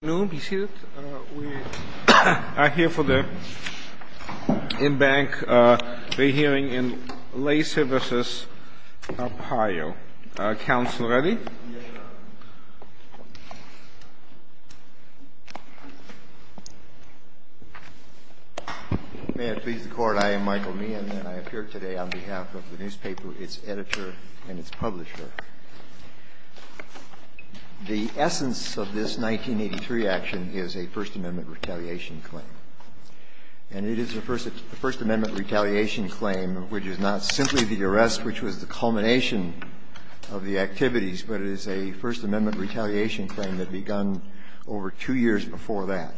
Good afternoon, be seated. We are here for the in-bank re-hearing in Lacey v. Arpaio. Council ready? May it please the Court, I am Michael Meehan, and I appear today on behalf of the newspaper, its editor, and its publisher. The essence of this 1983 action is a First Amendment retaliation claim. And it is a First Amendment retaliation claim which is not simply the arrest which was the culmination of the activities, but it is a First Amendment retaliation claim that begun over two years before that.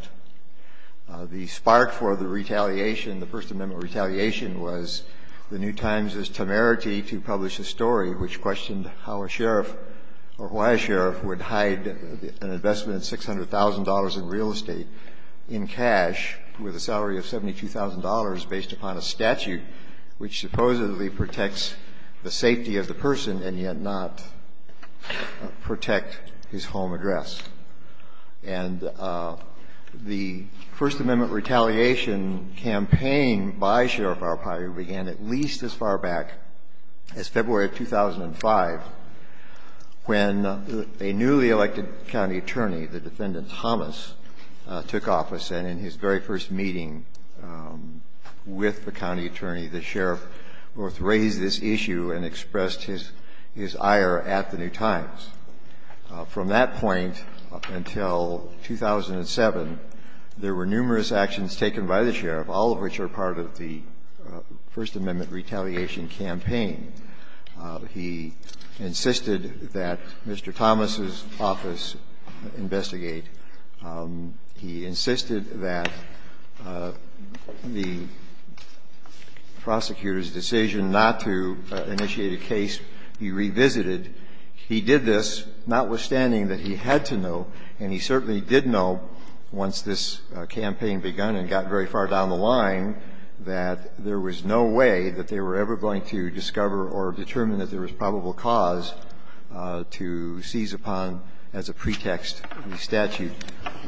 The spark for the retaliation, the First Amendment retaliation, was the New Times' temerity to publish a story which questioned how a sheriff or why a sheriff would hide an investment of $600,000 in real estate in cash with a salary of $72,000 based upon a statute which supposedly protects the safety of the person and yet not protect his home address. And the First Amendment retaliation campaign by Sheriff Arpaio began at least as far back as February of 2005, when a newly elected county attorney, the defendant Thomas, took office, and in his very first meeting with the county attorney, the sheriff both raised this issue and expressed his ire at the New Times. From that point until 2007, there were numerous actions taken by the sheriff, all of which are part of the First Amendment retaliation campaign. He insisted that Mr. Thomas's office investigate. He insisted that the prosecutor's decision not to initiate a case be revisited. He did this notwithstanding that he had to know, and he certainly did know once this campaign begun and got very far down the line, that there was no way that they were ever going to discover or determine that there was probable cause to seize upon as a pretext the statute,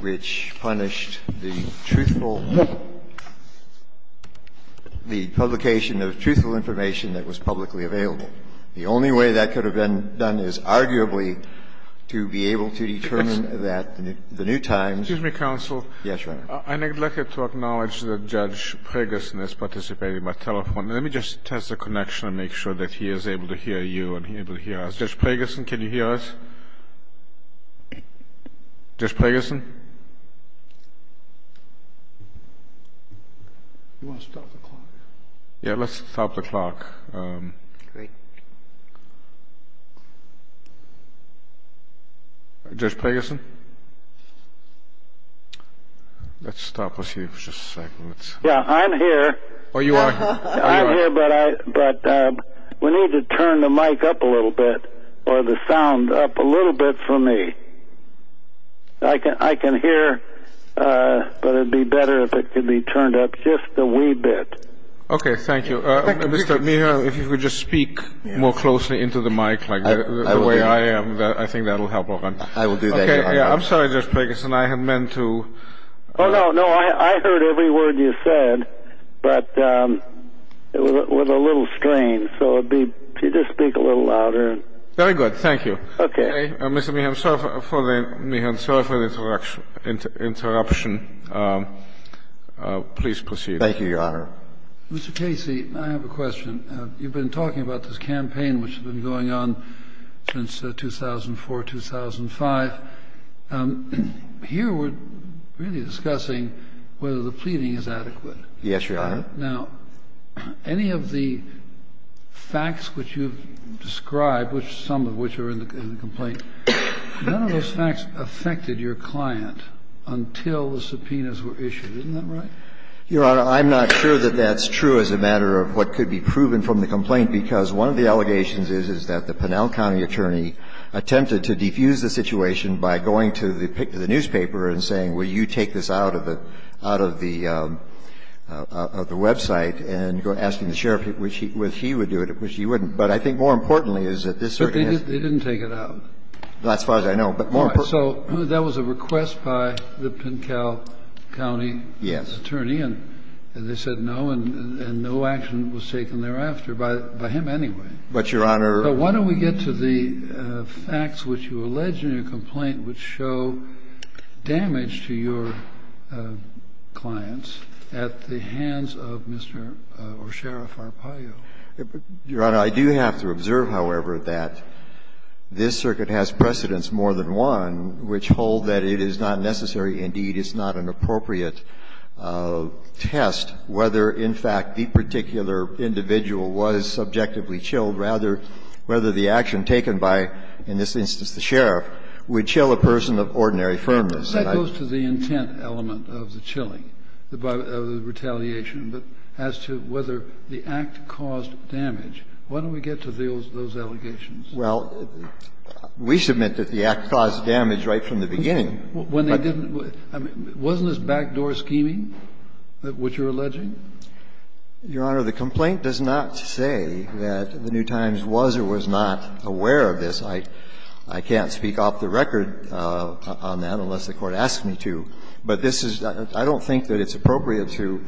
which punished the truthful – the publication of truthful information that was publicly available. The only way that could have been done is arguably to be able to determine that the New Times – Excuse me, counsel. Yes, Your Honor. I'd like to acknowledge that Judge Pragerson has participated by telephone. Let me just test the connection and make sure that he is able to hear you and he's able to hear us. Judge Pragerson, can you hear us? Judge Pragerson? You want to stop the clock? Yes, let's stop the clock. Great. Judge Pragerson? Let's stop. I'm here. Oh, you are? I'm here, but we need to turn the mic up a little bit or the sound up a little bit for me. I can hear, but it would be better if it could be turned up just a wee bit. Okay, thank you. Mr. Meehan, if you could just speak more closely into the mic like the way I am, I think that will help a lot. I will do that, Your Honor. Okay, I'm sorry, Judge Pragerson. I had meant to – Oh, no, no. I heard every word you said, but it was a little strange, so it would be – could you just speak a little louder? Very good, thank you. Okay. Mr. Meehan, I'm sorry for the interruption. Please proceed. Thank you, Your Honor. Mr. Casey, I have a question. You've been talking about this campaign which has been going on since 2004, 2005. Here we're really discussing whether the pleading is adequate. Yes, Your Honor. Now, any of the facts which you've described, some of which are in the complaint, none of those facts affected your client until the subpoenas were issued. Isn't that right? Your Honor, I'm not sure that that's true as a matter of what could be proven from the complaint, because one of the allegations is, is that the Pinal County attorney attempted to defuse the situation by going to the newspaper and saying, will you take this out of the – out of the website, and asking the sheriff if he would do it, which he wouldn't. But I think more importantly is that this organization – But they didn't take it out. Not as far as I know, but more – So that was a request by the Pinal County attorney, and they said no, and no action was taken thereafter by him anyway. But, Your Honor – So why don't we get to the facts which you allege in your complaint which show damage to your clients at the hands of Mr. or Sheriff Arpaio? Your Honor, I do have to observe, however, that this circuit has precedence more than one which hold that it is not necessary, indeed, it's not an appropriate test whether, in fact, the particular individual was subjectively chilled, rather whether the action taken by, in this instance, the sheriff would chill a person of ordinary firmness. That goes to the intent element of the chilling, of the retaliation, but as to whether the act caused damage. Why don't we get to those allegations? Well, we submit that the act caused damage right from the beginning. When they didn't – wasn't this backdoor scheming, which you're alleging? Your Honor, the complaint does not say that the New Times was or was not aware of this. I can't speak off the record on that unless the Court asks me to. But this is – I don't think that it's appropriate to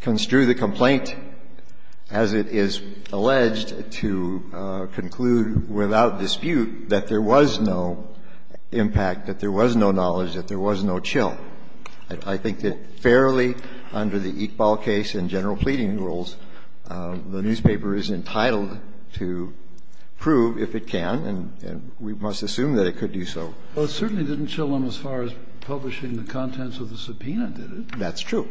construe the complaint as it is alleged to conclude without dispute that there was no impact, that there was no knowledge, that there was no chill. I think that fairly under the Iqbal case and general pleading rules, the newspaper is entitled to prove, if it can, and we must assume that it could do so. Well, it certainly didn't chill them as far as publishing the contents of the subpoena did it? That's true.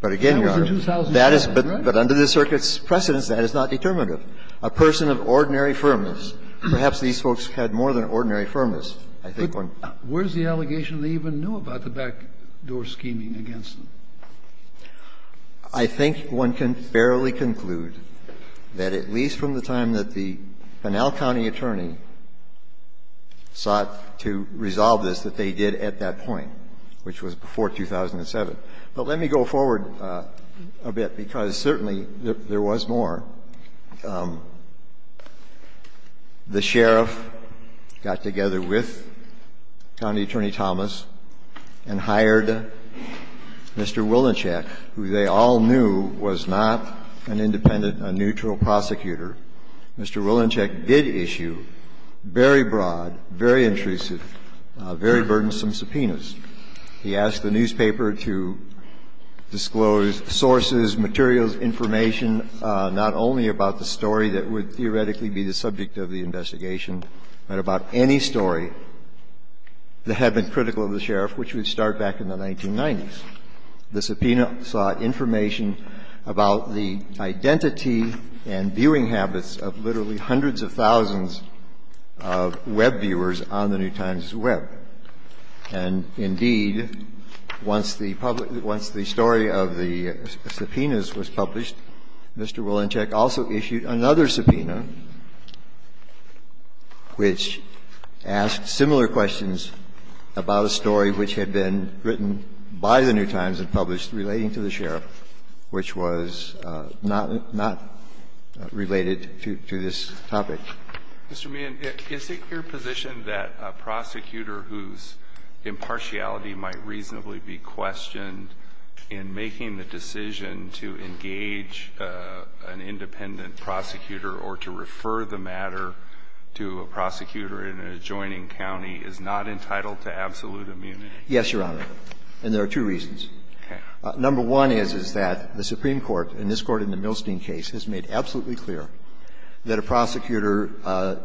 But again, Your Honor, that is – But under the circuit's precedence, that is not determinative. A person of ordinary firmness, perhaps these folks had more than ordinary firmness. I think one – Where's the allegation they even knew about the backdoor scheming against them? I think one can fairly conclude that at least from the time that the Pinal County attorney sought to resolve this, that they did at that point, which was before 2007. But let me go forward a bit, because certainly there was more. The sheriff got together with County Attorney Thomas and hired Mr. Wilenscheck, who they all knew was not an independent, a neutral prosecutor. Mr. Wilenscheck did issue very broad, very intrusive, very burdensome subpoenas. He asked the newspaper to disclose sources, materials, information, not only about the story that would theoretically be the subject of the investigation, but about any story that had been critical of the sheriff, which would start back in the 1990s. The subpoena sought information about the identity and viewing habits of literally Indeed, once the story of the subpoenas was published, Mr. Wilenscheck also issued another subpoena, which asked similar questions about a story which had been written by the New Times and published relating to the sheriff, which was not related to this topic. Mr. Meehan, is it your position that a prosecutor whose impartiality might reasonably be questioned in making the decision to engage an independent prosecutor or to refer the matter to a prosecutor in an adjoining county is not entitled to absolute immunity? Yes, Your Honor, and there are two reasons. Number one is, is that the Supreme Court, and this Court in the Milstein case, has made absolutely clear that a prosecutor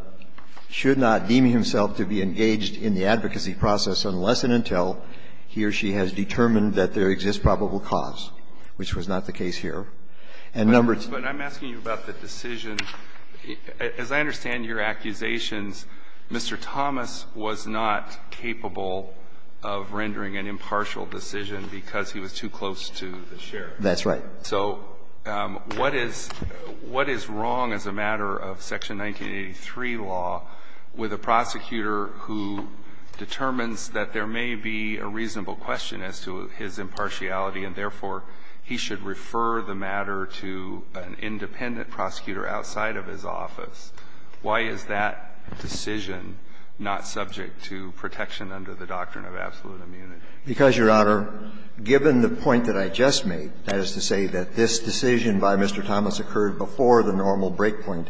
should not deem himself to be engaged in the advocacy process unless and until he or she has determined that there exists probable cause, which was not the case here. And number two But I'm asking you about the decision. As I understand your accusations, Mr. Thomas was not capable of rendering an impartial decision because he was too close to the sheriff. That's right. So what is wrong as a matter of Section 1983 law with a prosecutor who determines that there may be a reasonable question as to his impartiality, and therefore he should refer the matter to an independent prosecutor outside of his office? Why is that decision not subject to protection under the doctrine of absolute immunity? Because, Your Honor, given the point that I just made, that is to say that this decision by Mr. Thomas occurred before the normal breakpoint,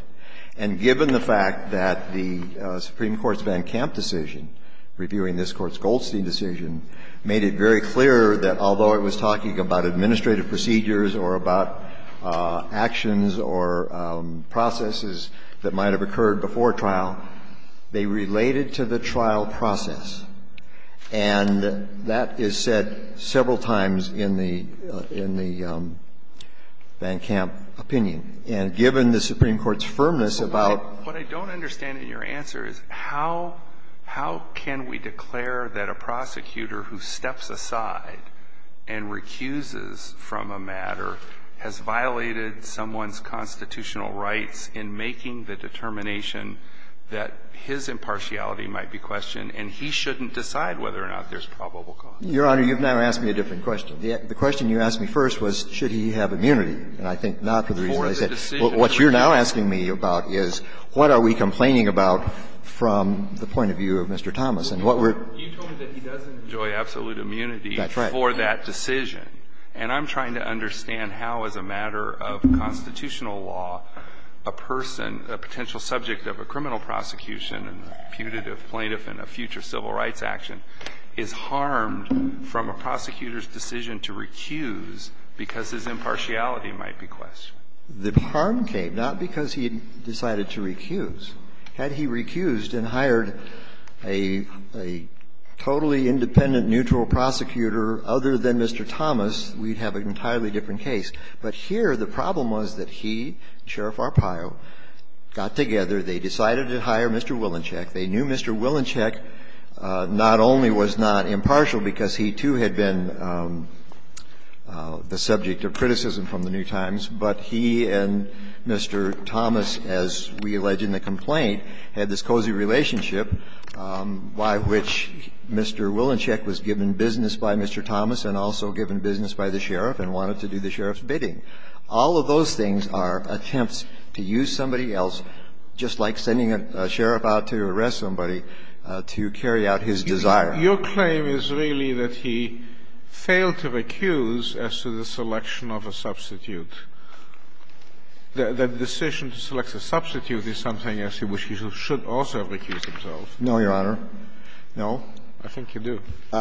and given the fact that the Supreme Court's Van Kamp decision, reviewing this Court's Goldstein decision, made it very clear that although it was talking about administrative procedures or about actions or processes that might have occurred before trial, they related to the trial process. And that is said several times in the Van Kamp opinion. And given the Supreme Court's firmness about the fact that there may be a reasonable question as to his impartiality, why is it that Mr. Thomas, who is the Supreme Court's Goldstein decision, made it very clear that there might be a reasonable question as to his impartiality, why is it that Mr. Thomas, who is the Supreme Your Honor, you have now asked me a different question. The question you asked me first was should he have immunity, and I think not, for the reason I said. What you're now asking me about is what are we complaining about from the point of view of Mr. Thomas. You told me that he doesn't enjoy absolute immunity for that decision. And I'm trying to understand how, as a matter of constitutional law, a person, a potential subject of a criminal prosecution, a putative plaintiff, and a future civil rights action, is harmed from a prosecutor's decision to recuse because his impartiality might be questioned. The harm came not because he decided to recuse. Had he recused and hired a totally independent, neutral prosecutor other than Mr. Thomas, we'd have an entirely different case. But here the problem was that he, Sheriff Arpaio, got together, they decided to hire Mr. Willinchek. They knew Mr. Willinchek not only was not impartial, because he, too, had been the subject of criticism from the New Times, but he and Mr. Thomas, as we allege in the complaint, had this cozy relationship by which Mr. Willinchek was given business by Mr. Thomas and also given business by the Sheriff and wanted to do the Sheriff's bidding. All of those things are attempts to use somebody else, just like sending a sheriff out to arrest somebody, to carry out his desire. Your claim is really that he failed to recuse as to the selection of a substitute. The decision to select a substitute is something as to which he should also have recused himself. No, Your Honor. No. I think you do. He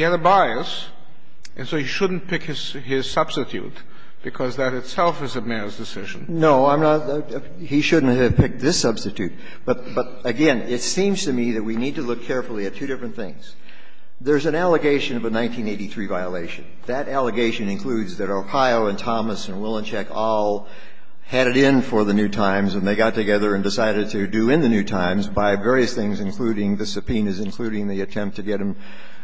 had a bias, and so he shouldn't pick his substitute, because that itself is a mayor's decision. No, I'm not – he shouldn't have picked this substitute. But, again, it seems to me that we need to look carefully at two different things. There's an allegation of a 1983 violation. That allegation includes that Arpaio and Thomas and Willinchek all had it in for the New Times, and they got together and decided to do in the New Times by various things, including the subpoenas, including the attempt to get him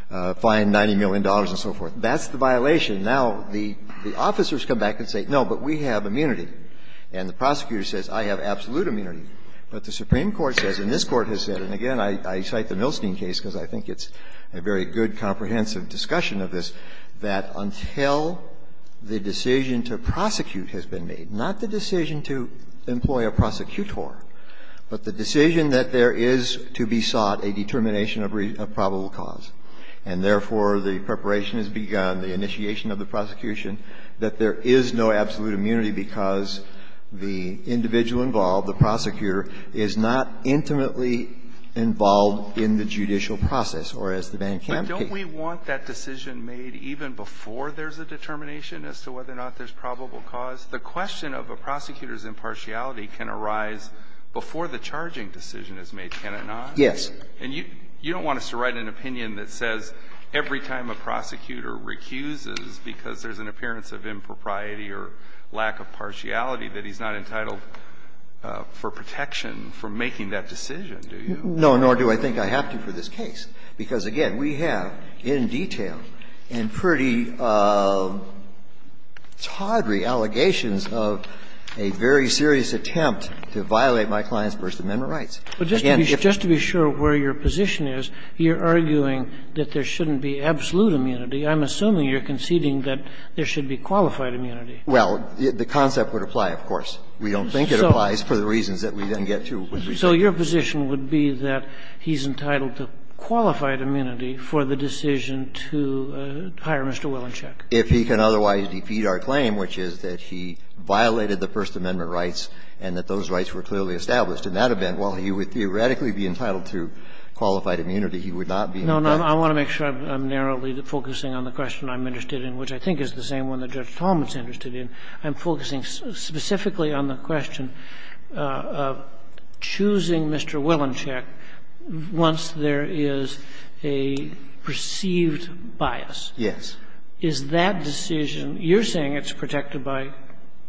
fined $90 million and so forth. That's the violation. Now, the officers come back and say, no, but we have immunity. And the prosecutor says, I have absolute immunity. But the Supreme Court says, and this Court has said, and, again, I cite the Milstein case, because I think it's a very good, comprehensive discussion of this, that until the decision to prosecute has been made, not the decision to employ a prosecutor, but the decision that there is to be sought a determination of probable cause. And, therefore, the preparation has begun, the initiation of the prosecution, that there is no absolute immunity because the individual involved, the prosecutor, is not intimately involved in the judicial process, or as the bank can indicate. But don't we want that decision made even before there's a determination as to whether or not there's probable cause? The question of a prosecutor's impartiality can arise before the charging decision is made, can it not? Yes. And you don't want us to write an opinion that says every time a prosecutor recuses because there's an appearance of impropriety or lack of partiality, that he's not entitled for protection for making that decision, do you? No, nor do I think I have to for this case, because, again, we have in detail and pretty tawdry allegations of a very serious attempt to violate my client's First Amendment rights. Again, if you're going to do that, you're going to have to do it. But just to be sure where your position is, you're arguing that there shouldn't be absolute immunity. I'm assuming you're conceding that there should be qualified immunity. Well, the concept would apply, of course. We don't think it applies for the reasons that we then get to. So your position would be that he's entitled to qualified immunity for the decision to hire Mr. Wilenschek? If he can otherwise defeat our claim, which is that he violated the First Amendment rights and that those rights were clearly established. In that event, while he would theoretically be entitled to qualified immunity, he would not be in effect. No, no. I want to make sure I'm narrowly focusing on the question I'm interested in, which I think is the same one that Judge Talmadge is interested in. I'm focusing specifically on the question of choosing Mr. Wilenschek once there is a perceived bias. Yes. Is that decision, you're saying it's protected by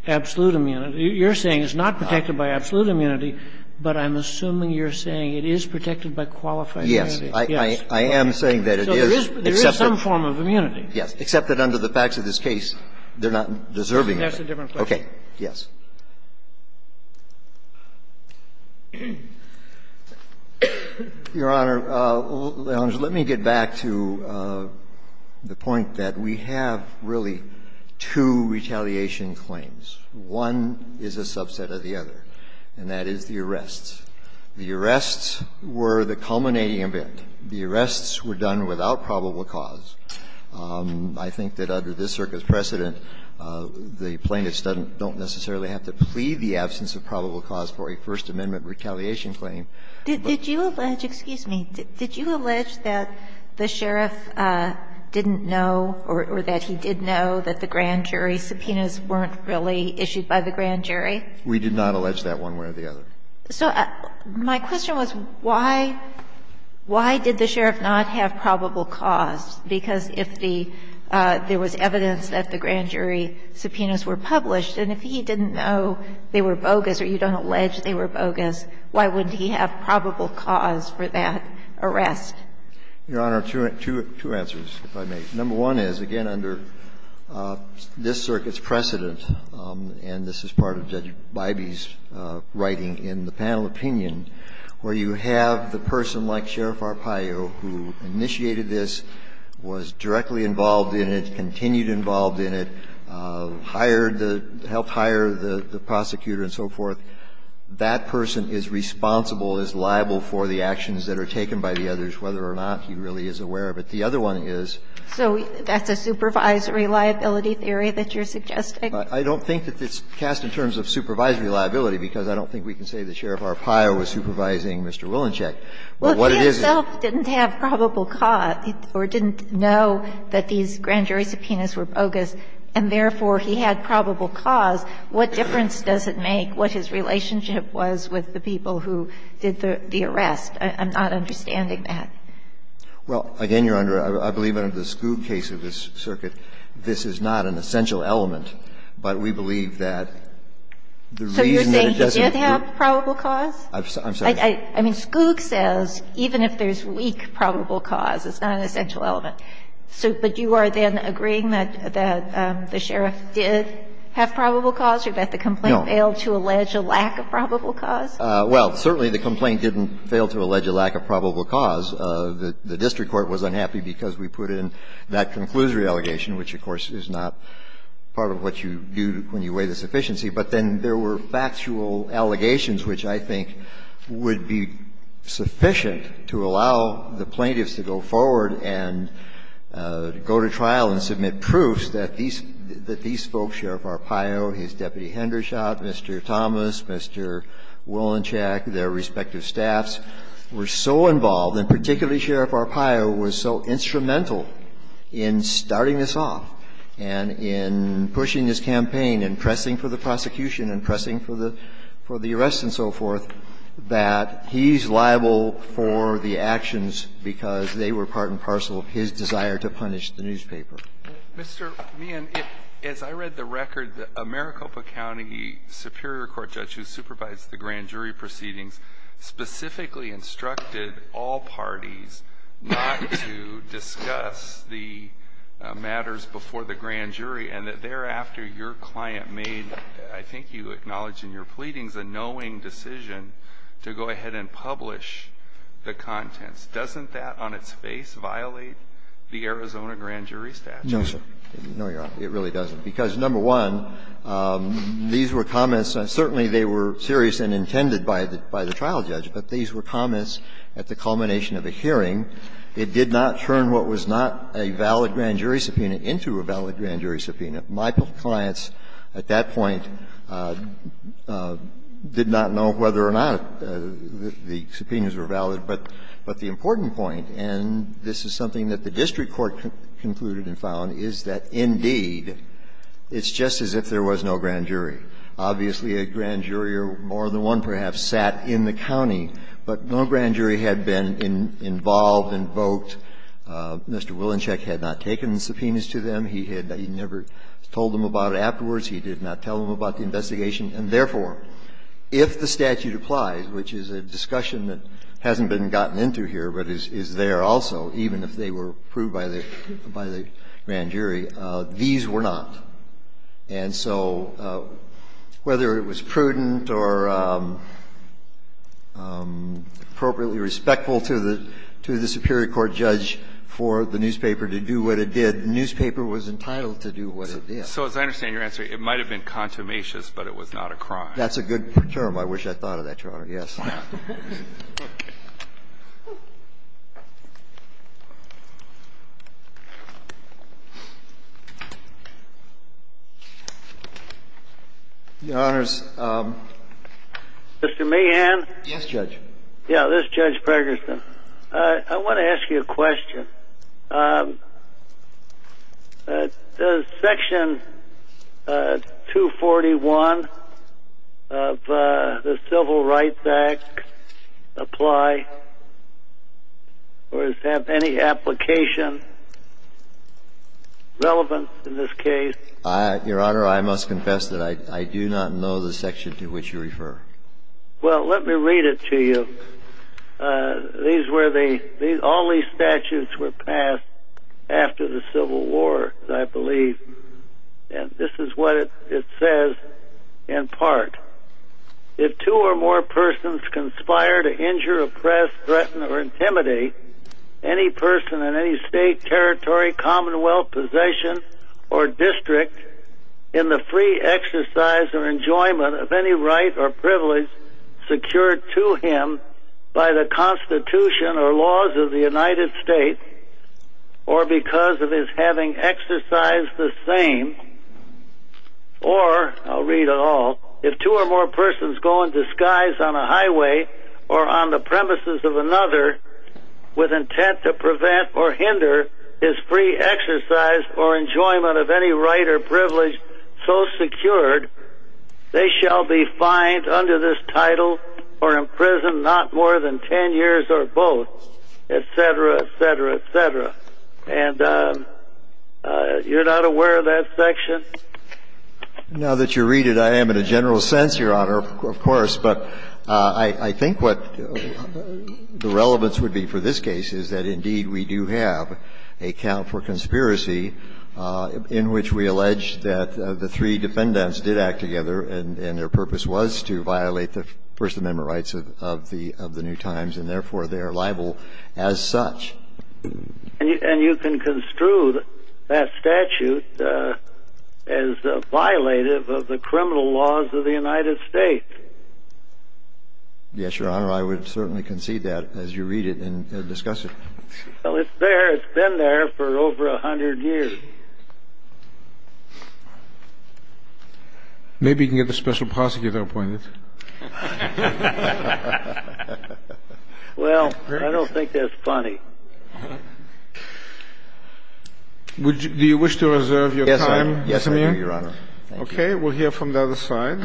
absolute immunity. You're saying it's not protected by absolute immunity, but I'm assuming you're saying it is protected by qualified immunity. Yes. I am saying that it is, except that. So there is some form of immunity. Yes. Except that under the facts of this case, they're not deserving of it. That's a different question. Okay. Yes. Your Honor, let me get back to the point that we have really two retaliation claims. One is a subset of the other, and that is the arrests. The arrests were the culminating event. The arrests were done without probable cause. I think that under this Circuit's precedent, the plaintiffs don't necessarily have to plead the absence of probable cause for a First Amendment retaliation claim. Did you allege, excuse me, did you allege that the sheriff didn't know or that he did know that the grand jury subpoenas weren't really issued by the grand jury? We did not allege that one way or the other. So my question was why, why did the sheriff not have probable cause? Because if the – there was evidence that the grand jury subpoenas were published, and if he didn't know they were bogus or you don't allege they were bogus, why wouldn't he have probable cause for that arrest? Your Honor, two answers, if I may. Number one is, again, under this Circuit's precedent, and this is part of Judge Bybee's writing in the panel opinion, where you have the person like Sheriff Arpaio who initiated this, was directly involved in it, continued involved in it, hired the – helped hire the prosecutor and so forth, that person is responsible, is liable for the actions that are taken by the others, whether or not he really is aware of it. The other one is – So that's a supervisory liability theory that you're suggesting? I don't think that it's cast in terms of supervisory liability, because I don't think we can say that Sheriff Arpaio was supervising Mr. Wilenscheck. What it is is – Well, if he himself didn't have probable cause or didn't know that these grand jury subpoenas were bogus, and therefore he had probable cause, what difference does it make what his relationship was with the people who did the arrest? I'm not understanding that. Well, again, Your Honor, I believe under the Skoug case of this Circuit, this is not an essential element, but we believe that the reason that it doesn't – So you're saying he did have probable cause? I'm sorry. I mean, Skoug says even if there's weak probable cause, it's not an essential element. So – but you are then agreeing that the sheriff did have probable cause or that the complaint failed to allege a lack of probable cause? Well, certainly the complaint didn't fail to allege a lack of probable cause. The district court was unhappy because we put in that conclusory allegation, which, of course, is not part of what you do when you weigh the sufficiency. But then there were factual allegations which I think would be sufficient to allow the plaintiffs to go forward and go to trial and submit proofs that these folks, Sheriff Arpaio, his deputy Hendershot, Mr. Thomas, Mr. Wolinchak, their respective staffs, were so involved, and particularly Sheriff Arpaio was so instrumental in starting this off and in pushing this campaign and pressing for the prosecution and pressing for the arrest and so forth, that he's liable for the actions because they were part and parcel of his desire to punish the newspaper. Mr. Meehan, as I read the record, the Maricopa County superior court judge who supervised the grand jury proceedings specifically instructed all parties not to discuss the matters before the grand jury, and that thereafter your client made, I think you acknowledged in your pleadings, a knowing decision to go ahead and publish the contents. Doesn't that on its face violate the Arizona grand jury statute? No, sir. No, Your Honor. It really doesn't. Because, number one, these were comments and certainly they were serious and intended by the trial judge, but these were comments at the culmination of a hearing. It did not turn what was not a valid grand jury subpoena into a valid grand jury subpoena. My clients at that point did not know whether or not the subpoenas were valid. But the important point, and this is something that the district court concluded and found, is that, indeed, it's just as if there was no grand jury. Obviously, a grand jury or more than one perhaps sat in the county, but no grand jury had been involved, invoked. Mr. Wilenshek had not taken the subpoenas to them. He had never told them about it afterwards. He did not tell them about the investigation. And, therefore, if the statute applies, which is a discussion that hasn't been gotten into here, but is there also, even if they were approved by the grand jury, these were not. And so whether it was prudent or appropriately respectful to the superior court judge for the newspaper to do what it did, the newspaper was entitled to do what it did. So as I understand your answer, it might have been consummatious, but it was not a crime. That's a good term. I wish I thought of that, Your Honor, yes. Well. Your Honors. Mr. Mahan? Yes, Judge. Yeah, this is Judge Pregerson. I want to ask you a question. Does Section 241 of the Civil Rights Act apply, or does it have any application relevant in this case? Your Honor, I must confess that I do not know the section to which you refer. Well, let me read it to you. All these statutes were passed after the Civil War, I believe. And this is what it says in part. If two or more persons conspire to injure, oppress, threaten, or intimidate any person in any state, territory, commonwealth, possession, or district in the free exercise or enjoyment of any right or privilege secured to him by the Constitution or laws of the United States, or because of his having exercised the same, or, I'll read it all, if two or more persons go in disguise on a highway or on the premises of another with intent to prevent or hinder his free exercise or enjoyment of any right or privilege so secured, they shall be fined under this title or imprisoned not more than 10 years or both, et cetera, et cetera, et cetera. And you're not aware of that section? Now that you read it, I am in a general sense, Your Honor, of course. But I think what the relevance would be for this case is that, indeed, we do have a count for conspiracy in which we allege that the three defendants did act together and their purpose was to violate the First Amendment rights of the New Times. And therefore, they are liable as such. And you can construe that statute as violative of the criminal laws of the United States. Yes, Your Honor, I would certainly concede that as you read it and discuss it. Well, it's there. It's been there for over 100 years. Maybe you can get the special prosecutor appointed. Well, I don't think that's funny. Do you wish to reserve your time, Samir? Yes, I do, Your Honor. Okay. We'll hear from the other side.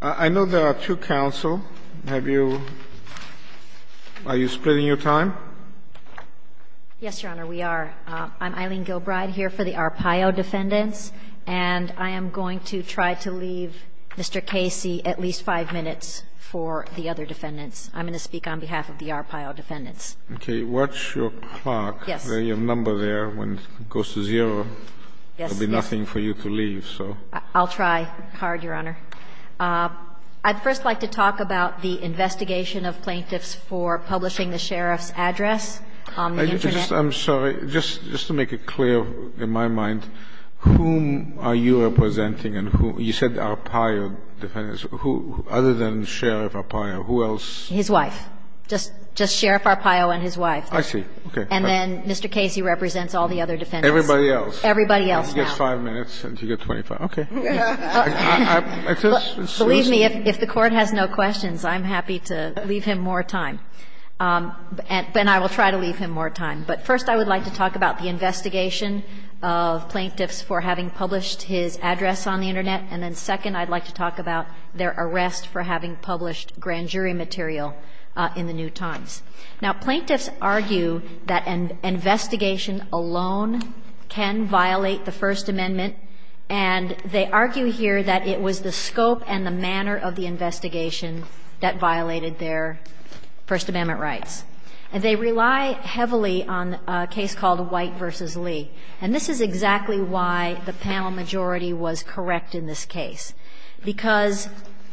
I know there are two counsel. Have you – are you splitting your time? Yes, Your Honor, we are. I'm Eileen Gilbride here for the Arpaio defendants. And I am going to try to leave Mr. Casey at least five minutes for the other defendants. I'm going to speak on behalf of the Arpaio defendants. Okay. What's your clock? Yes. Your number there, when it goes to zero. Yes. There will be nothing for you to leave, so. I'll try hard, Your Honor. I'd first like to talk about the investigation of plaintiffs for publishing the sheriff's address on the Internet. I'm sorry. Just to make it clear in my mind, whom are you representing and who – you said Arpaio defendants. Who other than Sheriff Arpaio? Who else? His wife. Just Sheriff Arpaio and his wife. I see. Okay. And then Mr. Casey represents all the other defendants. Everybody else. Everybody else now. He gets five minutes and you get 25. Okay. Believe me, if the Court has no questions, I'm happy to leave him more time. And I will try to leave him more time. But first I would like to talk about the investigation of plaintiffs for having published his address on the Internet, and then second, I'd like to talk about their arrest for having published grand jury material in the New Times. Now, plaintiffs argue that an investigation alone can violate the First Amendment, and they argue here that it was the scope and the manner of the investigation that violated their First Amendment rights. And they rely heavily on a case called White v. Lee. And this is exactly why the panel majority was correct in this case, because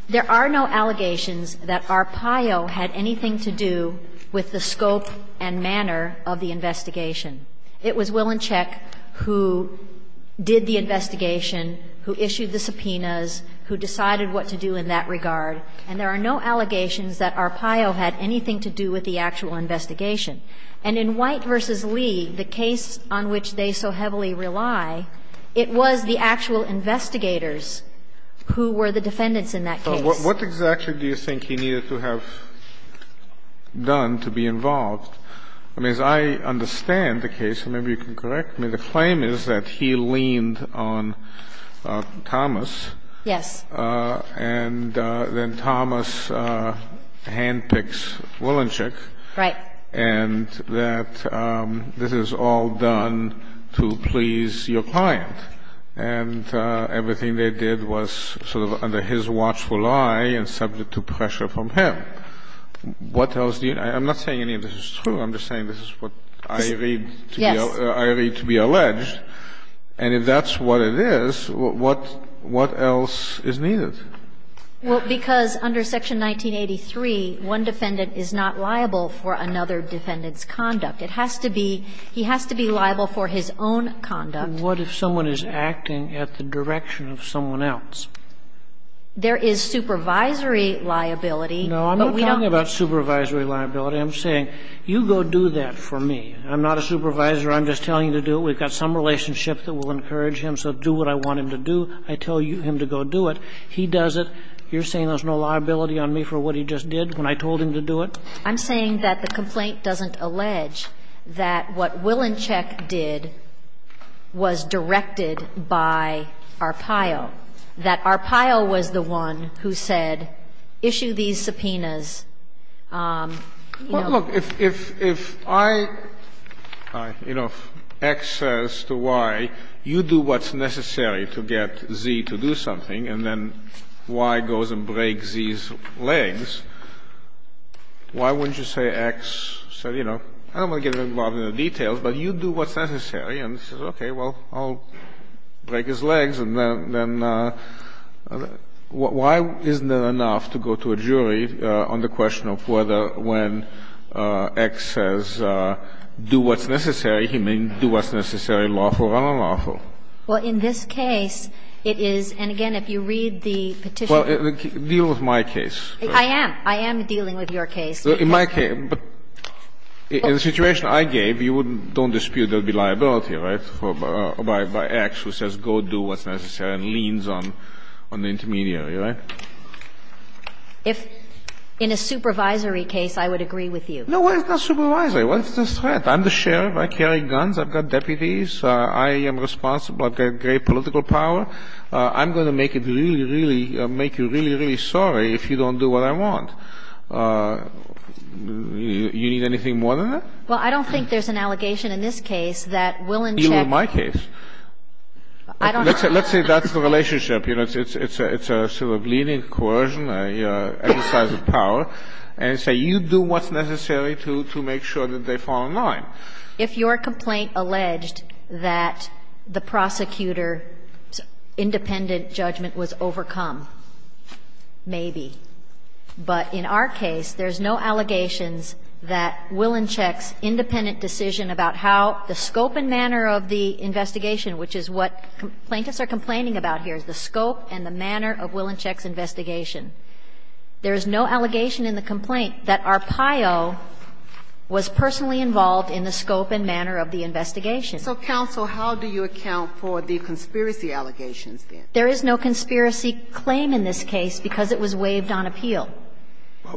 there are no allegations that Arpaio had anything to do with the scope and manner of the investigation. It was Willenchek who did the investigation, who issued the subpoenas, who decided what to do in that regard, and there are no allegations that Arpaio had anything to do with the actual investigation. And in White v. Lee, the case on which they so heavily rely, it was the actual investigators who were the defendants in that case. So what exactly do you think he needed to have done to be involved? I mean, as I understand the case, and maybe you can correct me, the claim is that he leaned on Thomas. Yes. And then Thomas handpicks Willenchek. Right. And that this is all done to please your client. And everything they did was sort of under his watchful eye and subject to pressure from him. What else do you need? I'm not saying any of this is true. I'm just saying this is what I read to be alleged. Yes. And if that's what it is, what else is needed? Well, because under Section 1983, one defendant is not liable for another defendant's conduct. It has to be he has to be liable for his own conduct. And what if someone is acting at the direction of someone else? There is supervisory liability. No, I'm not talking about supervisory liability. I'm saying you go do that for me. I'm not a supervisor. I'm just telling you to do it. We've got some relationship that will encourage him. So do what I want him to do. I tell him to go do it. He does it. You're saying there's no liability on me for what he just did when I told him to do it? I'm saying that the complaint doesn't allege that what Willinchek did was directed by Arpaio, that Arpaio was the one who said, issue these subpoenas, you know. Well, look, if I, you know, X says to Y, you do what's necessary to get Z to do something, and then Y goes and breaks Z's legs, why wouldn't you say X said, you know, I don't want to get involved in the details, but you do what's necessary, and he says, okay, well, I'll break his legs, and then why isn't that enough to go to a jury on the question of whether when X says do what's necessary, he may do what's necessary, lawful or unlawful? Well, in this case, it is, and again, if you read the petition. Well, deal with my case. I am. I am dealing with your case. In my case, but in the situation I gave, you wouldn't don't dispute there would be liability, right, by X who says go do what's necessary and leans on the intermediary, right? If in a supervisory case, I would agree with you. No, it's not supervisory. What's the threat? I'm the sheriff. I carry guns. I've got deputies. I am responsible. I've got great political power. I'm going to make it really, really make you really, really sorry if you don't do what I want. You need anything more than that? Well, I don't think there's an allegation in this case that will in check. Deal with my case. I don't. Let's say that's the relationship. It's a sort of leaning coercion, exercise of power, and say you do what's necessary to make sure that they fall in line. If your complaint alleged that the prosecutor's independent judgment was overcome, maybe. But in our case, there's no allegations that Willinchek's independent decision about how the scope and manner of the investigation, which is what plaintiffs are complaining about here, is the scope and the manner of Willinchek's investigation. There is no allegation in the complaint that Arpaio was personally involved in the scope and manner of the investigation. So, counsel, how do you account for the conspiracy allegations then? There is no conspiracy claim in this case because it was waived on appeal.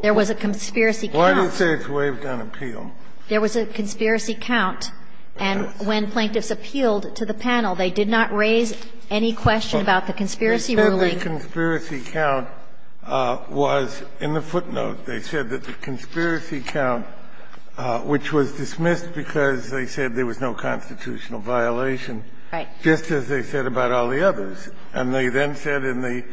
There was a conspiracy count. Why do you say it's waived on appeal? There was a conspiracy count, and when plaintiffs appealed to the panel, they did not raise any question about the conspiracy ruling. The conspiracy count was in the footnote. They said that the conspiracy count, which was dismissed because they said there was no constitutional violation, just as they said about all the others, and they then said in the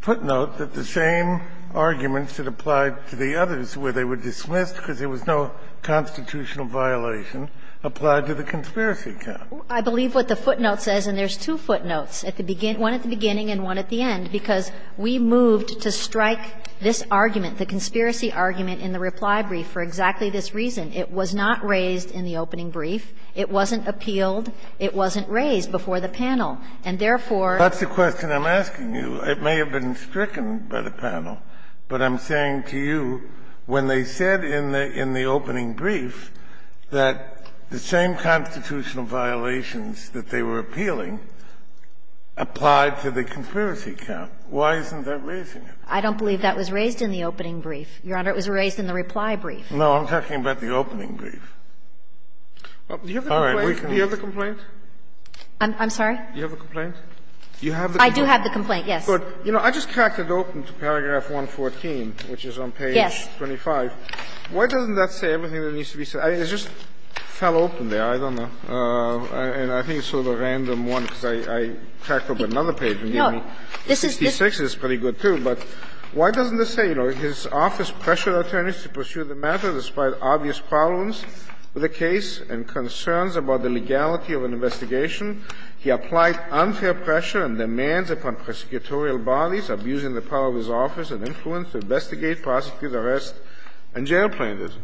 footnote that the same arguments that applied to the others where they were dismissed because there was no constitutional violation applied to the conspiracy count. I believe what the footnote says, and there's two footnotes, one at the beginning and one at the end, because we moved to strike this argument, the conspiracy argument, in the reply brief for exactly this reason. It was not raised in the opening brief. It wasn't appealed. It wasn't raised before the panel. And therefore, that's the question I'm asking you. It may have been stricken by the panel, but I'm saying to you, when they said in the opening brief that the same constitutional violations that they were appealing applied to the conspiracy count, why isn't that raising it? I don't believe that was raised in the opening brief, Your Honor. It was raised in the reply brief. No, I'm talking about the opening brief. Do you have a complaint? I'm sorry? Do you have a complaint? You have the complaint? I do have the complaint, yes. But, you know, I just cracked it open to paragraph 114, which is on page 25. Why doesn't that say everything that needs to be said? It just fell open there. I don't know. And I think it's sort of a random one, because I cracked open another page and it gave me 66. It's pretty good, too. But why doesn't it say, you know, "...his office pressured attorneys to pursue the matter despite obvious problems with the case and concerns about the legality of an investigation. He applied unfair pressure and demands upon prosecutorial bodies, abusing the power of his office and influence to investigate, prosecute, arrest, and jail plaintiffs."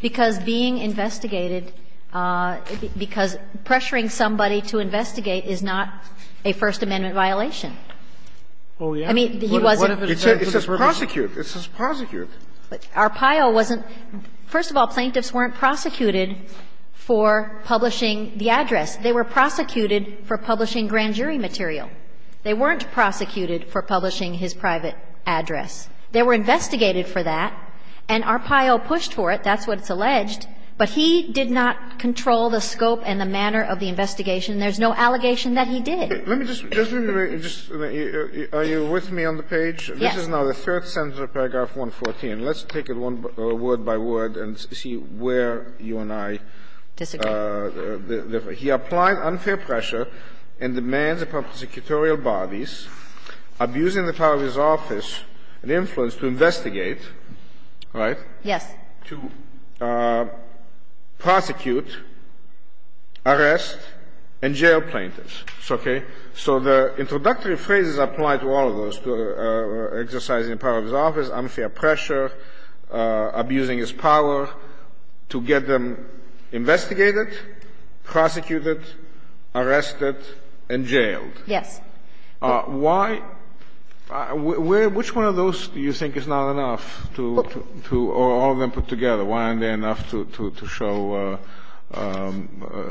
Because being investigated, because pressuring somebody to investigate is not a First Amendment violation. I mean, he wasn't. It says prosecute. It says prosecute. Arpaio wasn't – first of all, plaintiffs weren't prosecuted for publishing the address. They were prosecuted for publishing grand jury material. They weren't prosecuted for publishing his private address. They were investigated for that, and Arpaio pushed for it. That's what it's alleged. But he did not control the scope and the manner of the investigation. There's no allegation that he did. Let me just – just let me just – are you with me on the page? Yes. This is now the third sentence of paragraph 114. Let's take it one word by word and see where you and I disagree. He applied unfair pressure and demands upon prosecutorial bodies, abusing the power of his office and influence to investigate, right? Yes. To prosecute, arrest, and jail plaintiffs. Okay? So the introductory phrases apply to all of those, to exercising the power of his office, unfair pressure, abusing his power, to get them investigated, prosecuted, arrested, and jailed. Yes. Why – which one of those do you think is not enough to – to – or all of them put together, why aren't they enough to – to show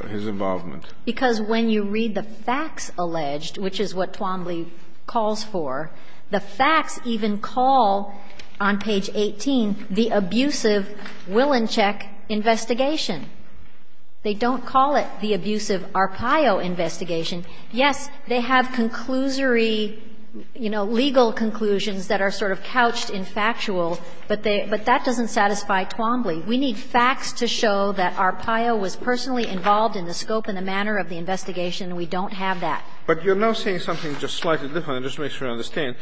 his involvement? Because when you read the facts alleged, which is what Twombly calls for, the facts even call, on page 18, the abusive Willinchick investigation. They don't call it the abusive Arpaio investigation. Yes, they have conclusory, you know, legal conclusions that are sort of couched in factual, but they – but that doesn't satisfy Twombly. We need facts to show that Arpaio was personally involved in the scope and the manner of the investigation, and we don't have that. But you're now saying something just slightly different, just to make sure I understand.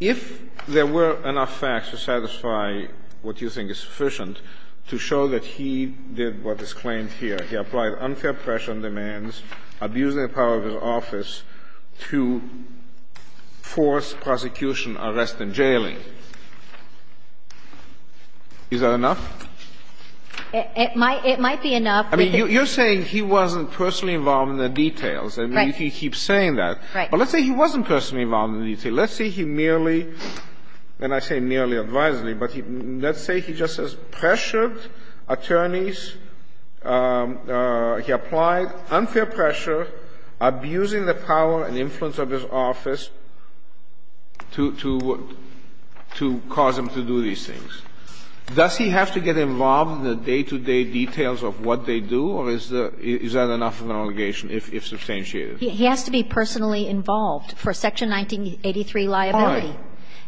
If there were enough facts to satisfy what you think is sufficient to show that he did what is claimed here, he applied unfair pressure and demands, abusing the power of his office to force prosecution, arrest, and jailing, is that enough? It might – it might be enough. I mean, you're saying he wasn't personally involved in the details. Right. I mean, if he keeps saying that. Right. But let's say he wasn't personally involved in the details. Let's say he merely – and I say merely advisedly, but let's say he just says that he applied unfair pressure, abusing the power and influence of his office to – to cause him to do these things. Does he have to get involved in the day-to-day details of what they do, or is the – is that enough of an allegation, if substantiated? He has to be personally involved for Section 1983 liability,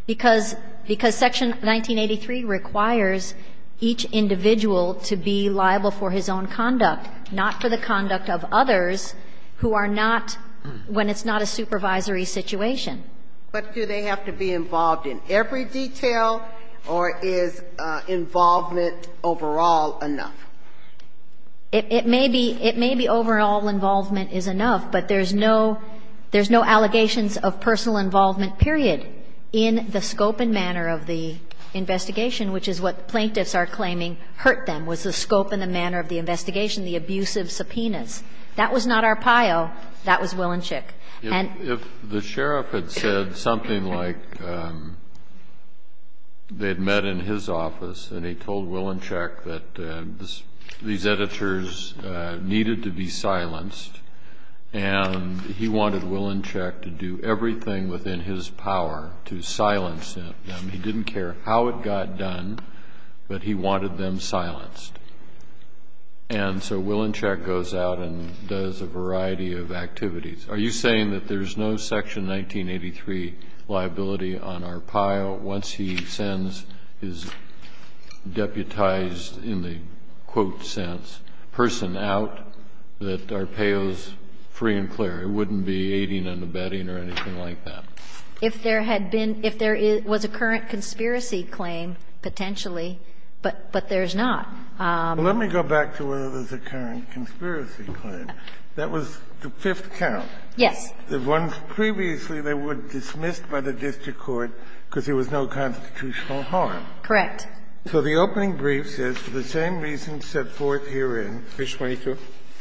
because – because Section 1983 requires each individual to be liable for his own conduct, not for the conduct of others who are not – when it's not a supervisory situation. But do they have to be involved in every detail, or is involvement overall enough? It may be – it may be overall involvement is enough, but there's no – there's no allegations of personal involvement, period, in the scope and manner of the investigation, which is what plaintiffs are claiming hurt them, was the scope and the manner of the investigation, the abusive subpoenas. That was not Arpaio. That was Wilenschek. And the – If the sheriff had said something like they had met in his office and he told Wilenschek that these editors needed to be silenced, and he wanted Wilenschek to do everything within his power to silence them, he didn't care how it got done, but he wanted them silenced. And so Wilenschek goes out and does a variety of activities. Are you saying that there's no Section 1983 liability on Arpaio once he sends his deputized in the quote sense person out that Arpaio's free and clear? It wouldn't be aiding and abetting or anything like that. If there had been – if there was a current conspiracy claim, potentially, but there's not. Let me go back to whether there's a current conspiracy claim. That was the fifth count. Yes. The ones previously that were dismissed by the district court because there was no constitutional harm. Correct. So the opening brief says, for the same reasons set forth herein – Page 22.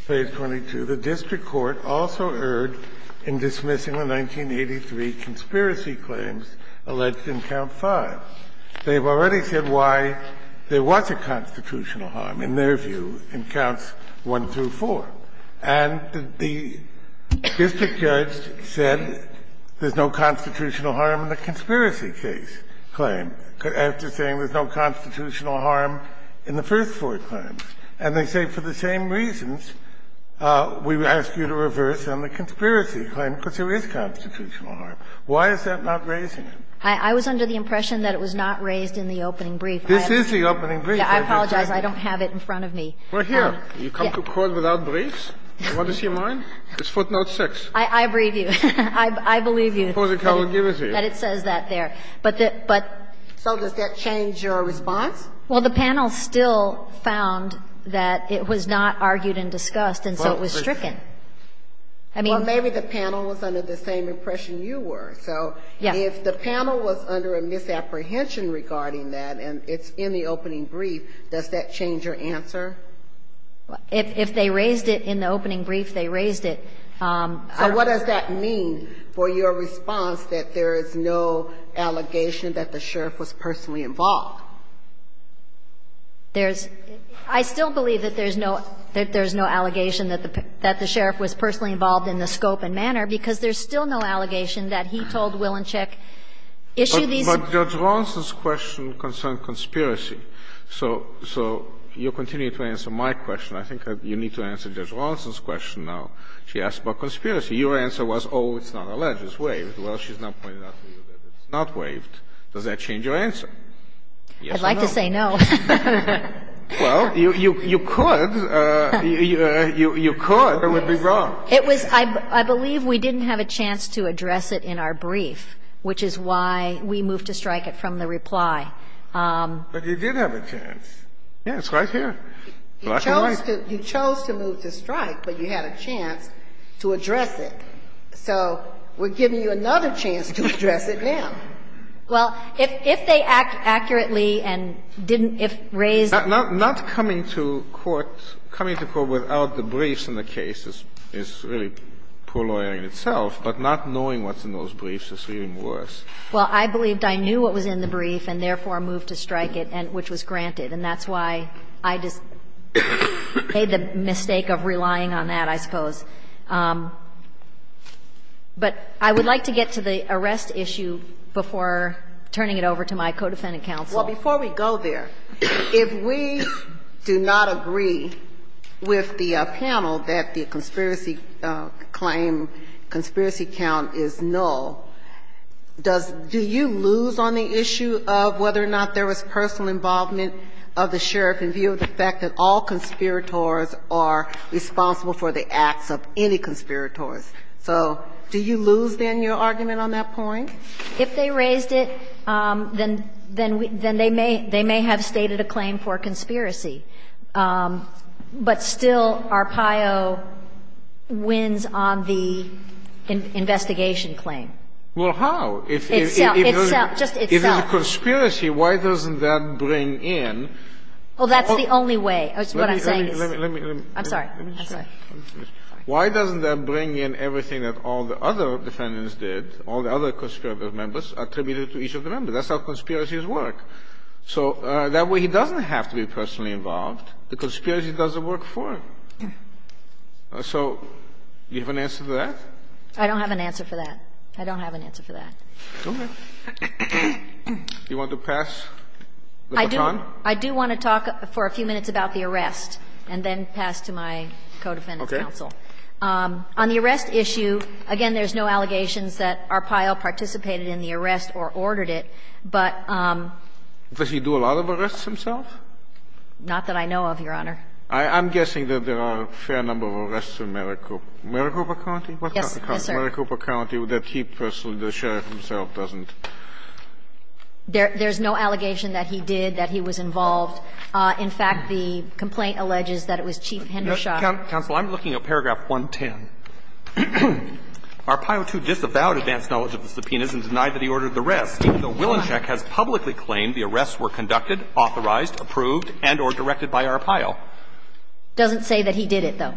Page 22. The district court also erred in dismissing the 1983 conspiracy claims alleged in count 5. They've already said why there was a constitutional harm, in their view, in counts 1 through 4. And the district judge said there's no constitutional harm in the conspiracy case claim, after saying there's no constitutional harm in the first four claims. And they say, for the same reasons, we ask you to reverse on the conspiracy claim, because there is constitutional harm. Why is that not raising it? I was under the impression that it was not raised in the opening brief. This is the opening brief. I apologize. I don't have it in front of me. We're here. You come to court without briefs? What is your mind? It's footnote 6. I believe you. I believe you. That it says that there. So does that change your response? Well, the panel still found that it was not argued and discussed, and so it was stricken. Well, maybe the panel was under the same impression you were. So if the panel was under a misapprehension regarding that, and it's in the opening brief, does that change your answer? If they raised it in the opening brief, they raised it. So what does that mean for your response, that there is no allegation that the sheriff was personally involved? There's – I still believe that there's no – that there's no allegation that the sheriff was personally involved in the scope and manner, because there's still no allegation that he told Willenchik, issue these. But Judge Rawlinson's question concerned conspiracy. So you continue to answer my question. I think you need to answer Judge Rawlinson's question now. She asked about conspiracy. Your answer was, oh, it's not alleged, it's waived. Well, she's now pointed out to you that it's not waived. Does that change your answer? Yes or no? I'd like to say no. Well, you could. You could. It would be wrong. It was – I believe we didn't have a chance to address it in our brief, which is why we moved to strike it from the reply. But you did have a chance. Yes, right here. You chose to move to strike, but you had a chance to address it. So we're giving you another chance to address it now. Well, if they act accurately and didn't – if raised – Not coming to court without the briefs in the case is really poor lawyering itself, but not knowing what's in those briefs is even worse. Well, I believed I knew what was in the brief and therefore moved to strike it, which was granted. And that's why I just made the mistake of relying on that, I suppose. But I would like to get to the arrest issue before turning it over to my co-defendant counsel. Well, before we go there, if we do not agree with the panel that the conspiracy claim, conspiracy count is null, does – do you lose on the issue of whether or not there was personal involvement of the sheriff in view of the fact that all conspirators are responsible for the acts of any conspirators? So do you lose, then, your argument on that point? If they raised it, then they may have stated a claim for conspiracy. But still, Arpaio wins on the investigation claim. Well, how? Itself. Itself. Just itself. If it's a conspiracy, why doesn't that bring in – Well, that's the only way. That's what I'm saying is – Let me, let me, let me – I'm sorry. Why doesn't that bring in everything that all the other defendants did, all the other conspiratorial members attributed to each of the members? That's how conspiracies work. So that way he doesn't have to be personally involved. The conspiracy doesn't work for him. So you have an answer to that? I don't have an answer for that. I don't have an answer for that. Okay. Do you want to pass the baton? I do want to talk for a few minutes about the arrest and then pass to my co-defendant's counsel. Okay. On the arrest issue, again, there's no allegations that Arpaio participated in the arrest or ordered it, but – Does he do a lot of arrests himself? Not that I know of, Your Honor. I'm guessing that there are a fair number of arrests in Maricopa County? Yes, yes, sir. In Maricopa County, that he personally, the sheriff himself, doesn't? There's no allegation that he did, that he was involved. In fact, the complaint alleges that it was Chief Hendershot. Counsel, I'm looking at paragraph 110. Arpaio, too, disavowed advanced knowledge of the subpoenas and denied that he ordered the arrest, even though Willinshek has publicly claimed the arrests were conducted, authorized, approved, and or directed by Arpaio. It doesn't say that he did it, though.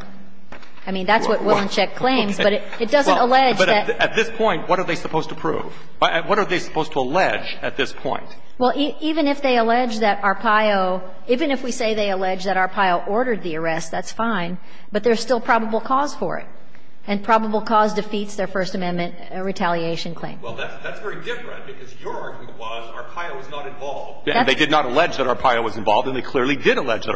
I mean, that's what Willinshek claims. But it doesn't allege that – But at this point, what are they supposed to prove? What are they supposed to allege at this point? Well, even if they allege that Arpaio – even if we say they allege that Arpaio ordered the arrest, that's fine. But there's still probable cause for it. And probable cause defeats their First Amendment retaliation claim. Well, that's very different, because your argument was Arpaio was not involved. And they did not allege that Arpaio was involved, and they clearly did allege that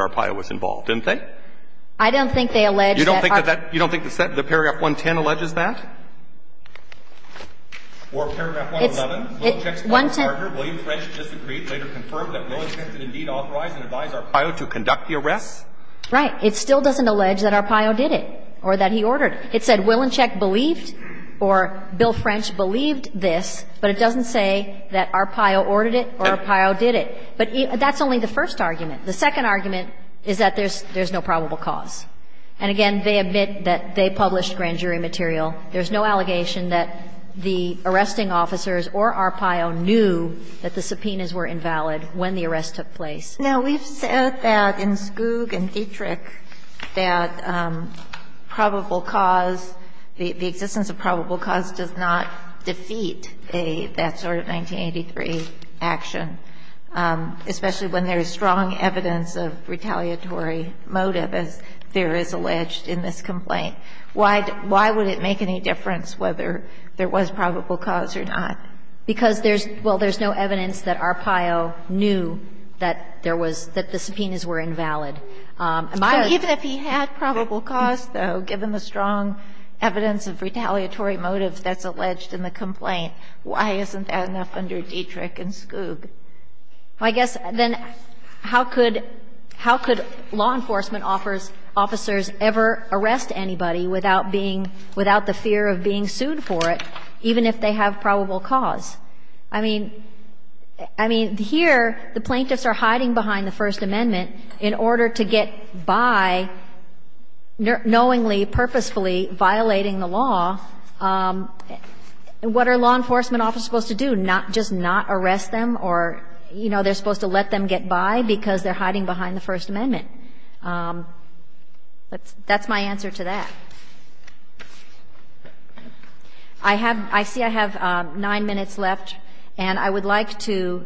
I don't think they allege that – You don't think that that – you don't think the paragraph 110 alleges that? Or paragraph 111, Willinshek's partner, William French, disagreed, later confirmed that Willinshek did indeed authorize and advise Arpaio to conduct the arrests? Right. It still doesn't allege that Arpaio did it or that he ordered it. It said Willinshek believed or Bill French believed this, but it doesn't say that Arpaio ordered it or Arpaio did it. But that's only the first argument. The second argument is that there's no probable cause. And again, they admit that they published grand jury material. There's no allegation that the arresting officers or Arpaio knew that the subpoenas were invalid when the arrest took place. Now, we've said that in Skoug and Dietrich that probable cause, the existence of probable cause does not defeat a – that sort of 1983 action, especially when there is strong evidence of retaliatory motive, as there is alleged in this complaint. Why would it make any difference whether there was probable cause or not? Because there's – well, there's no evidence that Arpaio knew that there was – that the subpoenas were invalid. Even if he had probable cause, though, given the strong evidence of retaliatory motive that's alleged in the complaint, why isn't that enough under Dietrich and Skoug? Well, I guess then how could – how could law enforcement officers ever arrest anybody without being – without the fear of being sued for it, even if they have probable cause? I mean – I mean, here the plaintiffs are hiding behind the First Amendment in order to get by knowingly, purposefully violating the law. What are law enforcement officers supposed to do, not – just not arrest them or, you know, they're supposed to let them get by because they're hiding behind the First Amendment? That's my answer to that. I have – I see I have 9 minutes left, and I would like to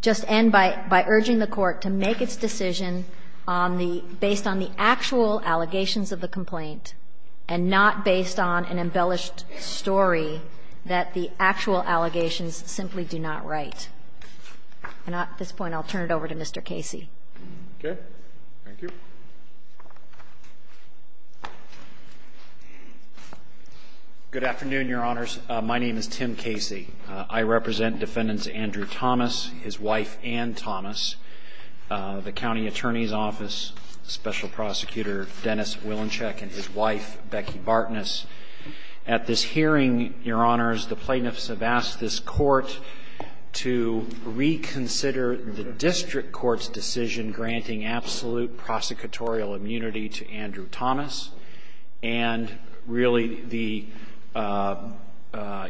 just end by urging the Court to make its decision on the – based on the actual allegations of the complaint and not based on an embellished story that the actual allegations simply do not write. And at this point, I'll turn it over to Mr. Casey. Okay. Thank you. Good afternoon, Your Honors. My name is Tim Casey. I represent Defendants Andrew Thomas, his wife Anne Thomas, the county attorney's special prosecutor, Dennis Wilenscheck, and his wife, Becky Bartness. At this hearing, Your Honors, the plaintiffs have asked this Court to reconsider the district court's decision granting absolute prosecutorial immunity to Andrew Thomas and really the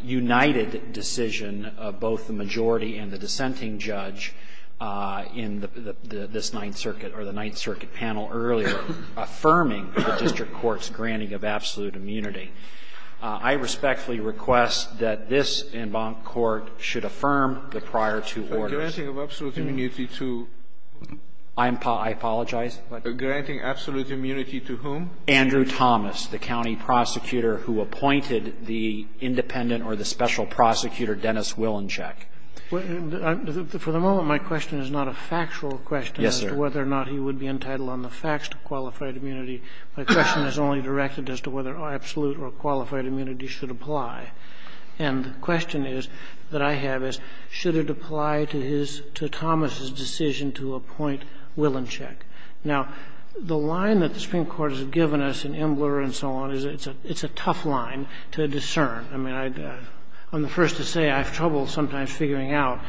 united decision of both the majority and the dissenting judge in this Ninth Circuit or the Ninth Circuit panel earlier affirming the district court's granting of absolute immunity. I respectfully request that this court should affirm the prior two orders. But granting of absolute immunity to? I apologize? Granting absolute immunity to whom? Andrew Thomas, the county prosecutor who appointed the independent or the special prosecutor, Dennis Wilenscheck. For the moment, my question is not a factual question as to whether or not he would be entitled on the facts to qualified immunity. My question is only directed as to whether absolute or qualified immunity should apply. And the question is, that I have is, should it apply to his, to Thomas's decision to appoint Wilenscheck? Now, the line that the Supreme Court has given us in Embler and so on is it's a tough line to discern. I mean, I'm the first to say I have trouble sometimes figuring out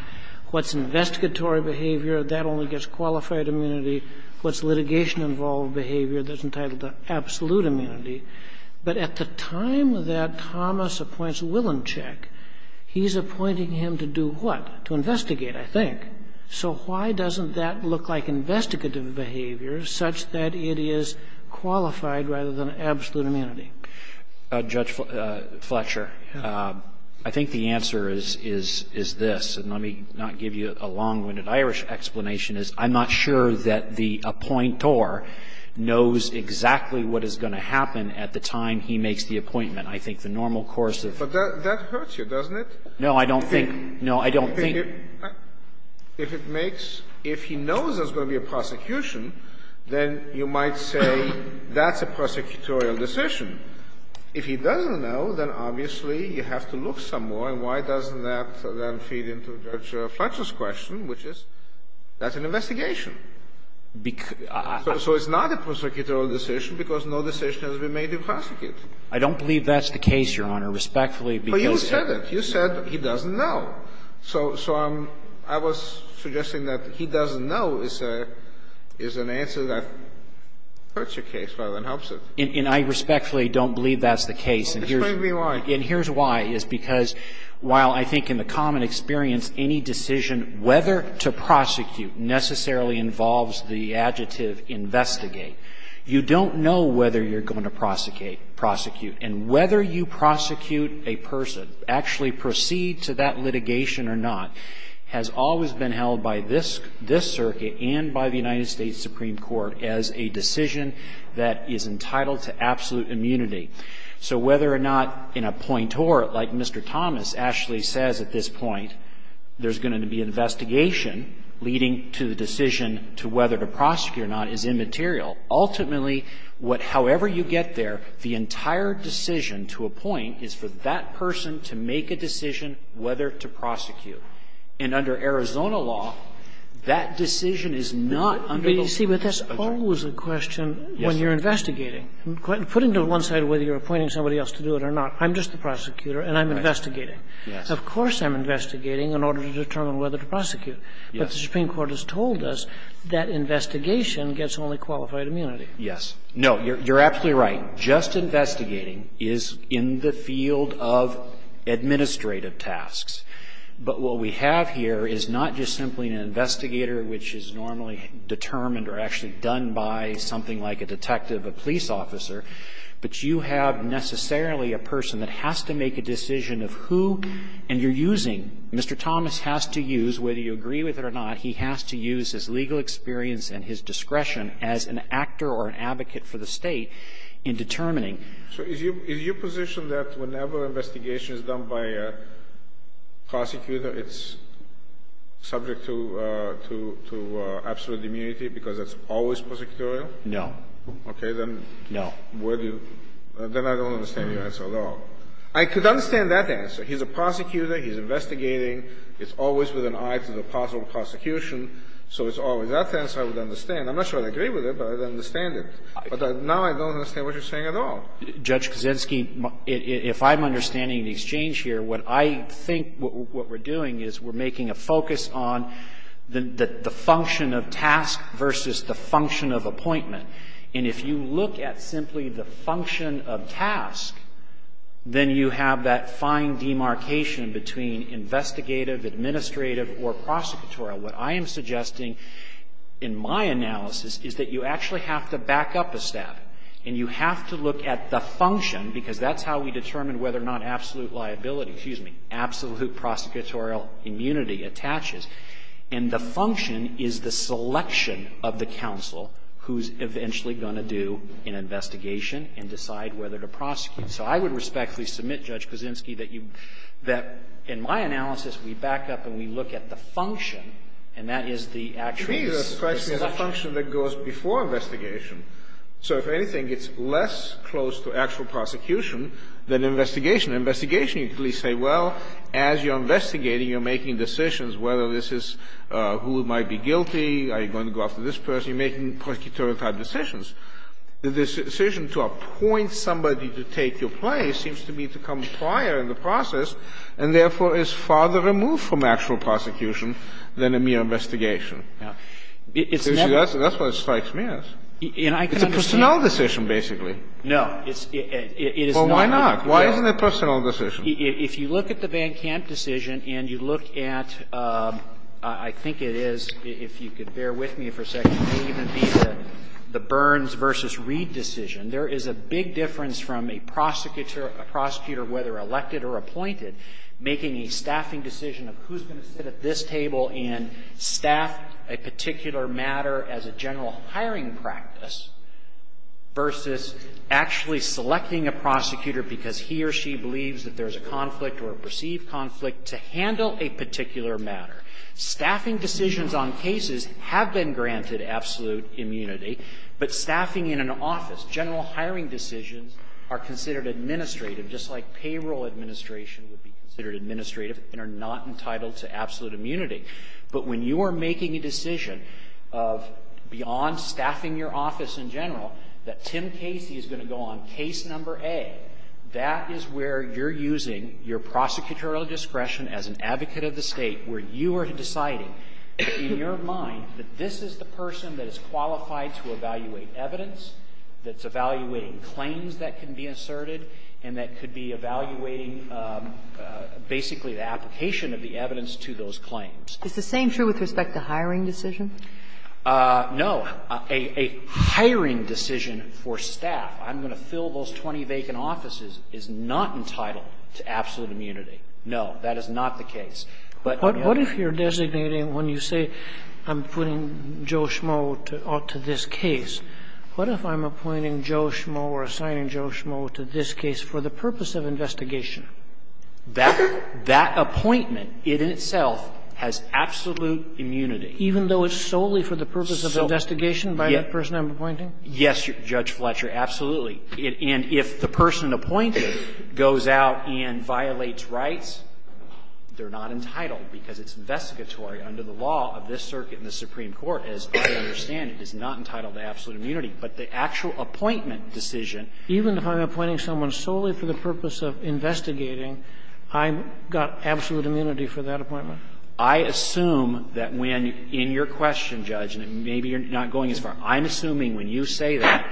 what's investigatory behavior, that only gets qualified immunity, what's litigation-involved behavior that's entitled to absolute immunity. But at the time that Thomas appoints Wilenscheck, he's appointing him to do what? To investigate, I think. So why doesn't that look like investigative behavior such that it is qualified rather than absolute immunity? Fletcher. I think the answer is, is this, and let me not give you a long-winded Irish explanation, is I'm not sure that the appointor knows exactly what is going to happen at the time he makes the appointment. I think the normal course of the case is that he's going to make the appointment. Scalia. But that hurts you, doesn't it? No, I don't think. No, I don't think. If it makes, if he knows there's going to be a prosecution, then you might say that's a prosecutorial decision. If he doesn't know, then obviously you have to look some more. And why doesn't that then feed into Judge Fletcher's question, which is, that's an investigation. So it's not a prosecutorial decision because no decision has been made to prosecute. I don't believe that's the case, Your Honor, respectfully, because it's not. But you said it. You said he doesn't know. So I'm, I was suggesting that he doesn't know is a, is an answer that hurts your case rather than helps it. And I respectfully don't believe that's the case. Explain to me why. And here's why. It's because while I think in the common experience any decision whether to prosecute necessarily involves the adjective investigate, you don't know whether you're going to prosecute. And whether you prosecute a person, actually proceed to that litigation or not, has always been held by this, this circuit and by the United States Supreme Court as a decision that is entitled to absolute immunity. So whether or not in a point or, like Mr. Thomas actually says at this point, there's going to be an investigation leading to the decision to whether to prosecute or not is immaterial. Ultimately, what, however you get there, the entire decision to appoint is for that person to make a decision whether to prosecute. And under Arizona law, that decision is not under the law. I mean, that's the question. When you're investigating, put into one side whether you're appointing somebody else to do it or not, I'm just the prosecutor and I'm investigating. Of course I'm investigating in order to determine whether to prosecute. But the Supreme Court has told us that investigation gets only qualified immunity. Yes. No, you're absolutely right. Just investigating is in the field of administrative tasks. But what we have here is not just simply an investigator which is normally determined or actually done by something like a detective, a police officer, but you have necessarily a person that has to make a decision of who and you're using, Mr. Thomas has to use, whether you agree with it or not, he has to use his legal experience and his discretion as an actor or an advocate for the State in determining. So is your position that whenever an investigation is done by a prosecutor, it's subject to absolute immunity because it's always prosecutorial? No. Okay. No. Then I don't understand your answer at all. I could understand that answer. He's a prosecutor. He's investigating. It's always with an eye to the possible prosecution. So it's always that answer I would understand. I'm not sure I would agree with it, but I would understand it. But now I don't understand what you're saying at all. Judge Kaczynski, if I'm understanding the exchange here, what I think what we're doing is we're making a focus on the function of task versus the function of appointment. And if you look at simply the function of task, then you have that fine demarcation between investigative, administrative, or prosecutorial. What I am suggesting in my analysis is that you actually have to back up a step and you have to look at the function, because that's how we determine whether or not absolute liability, excuse me, absolute prosecutorial immunity attaches. And the function is the selection of the counsel who's eventually going to do an investigation and decide whether to prosecute. So I would respectfully submit, Judge Kaczynski, that you that in my analysis we back up and we look at the function, and that is the actual selection. The function that goes before investigation. So if anything, it's less close to actual prosecution than investigation. In investigation, you could at least say, well, as you're investigating, you're making decisions whether this is who might be guilty, are you going to go after this person. You're making prosecutorial-type decisions. The decision to appoint somebody to take your place seems to me to come prior in the process and, therefore, is farther removed from actual prosecution than a mere investigation. That's what it strikes me as. It's a personnel decision, basically. No. It is not. Well, why not? Why isn't it a personnel decision? If you look at the Van Camp decision and you look at, I think it is, if you could bear with me for a second, it may even be the Burns v. Reed decision. There is a big difference from a prosecutor, whether elected or appointed, making a staffing decision of who is going to sit at this table and staff a particular matter as a general hiring practice versus actually selecting a prosecutor because he or she believes that there is a conflict or a perceived conflict to handle a particular matter. Staffing decisions on cases have been granted absolute immunity, but staffing in an office, general hiring decisions are considered administrative, just like payroll administration would be considered administrative and are not entitled to absolute immunity. But when you are making a decision of, beyond staffing your office in general, that Tim Casey is going to go on case number A, that is where you're using your prosecutorial discretion as an advocate of the State, where you are deciding in your mind that this is the person that is qualified to evaluate evidence, that's evaluating claims that can be asserted, and that could be evaluating basically the application of the evidence to those claims. Is the same true with respect to hiring decisions? No. A hiring decision for staff, I'm going to fill those 20 vacant offices, is not entitled to absolute immunity. No, that is not the case. But what if you're designating, when you say I'm putting Joe Schmoe to this case, what if I'm appointing Joe Schmoe or assigning Joe Schmoe to this case for the purpose of investigation? That appointment in itself has absolute immunity. Even though it's solely for the purpose of investigation by the person I'm appointing? Yes, Judge Fletcher, absolutely. And if the person appointed goes out and violates rights, they're not entitled, because it's investigatory under the law of this Circuit and the Supreme Court. As far as I understand, it is not entitled to absolute immunity. But the actual appointment decision. Even if I'm appointing someone solely for the purpose of investigating, I've got absolute immunity for that appointment? I assume that when, in your question, Judge, and maybe you're not going as far. I'm assuming when you say that,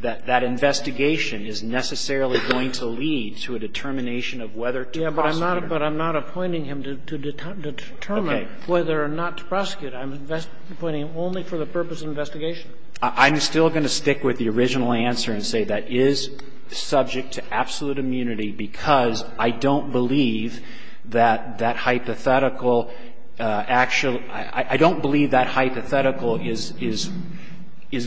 that that investigation is necessarily going to lead to a determination of whether to prosecute. Yes, but I'm not appointing him to determine whether or not to prosecute. I'm appointing him only for the purpose of investigation. I'm still going to stick with the original answer and say that is subject to absolute immunity, because I don't believe that that hypothetical actually – I don't believe that hypothetical is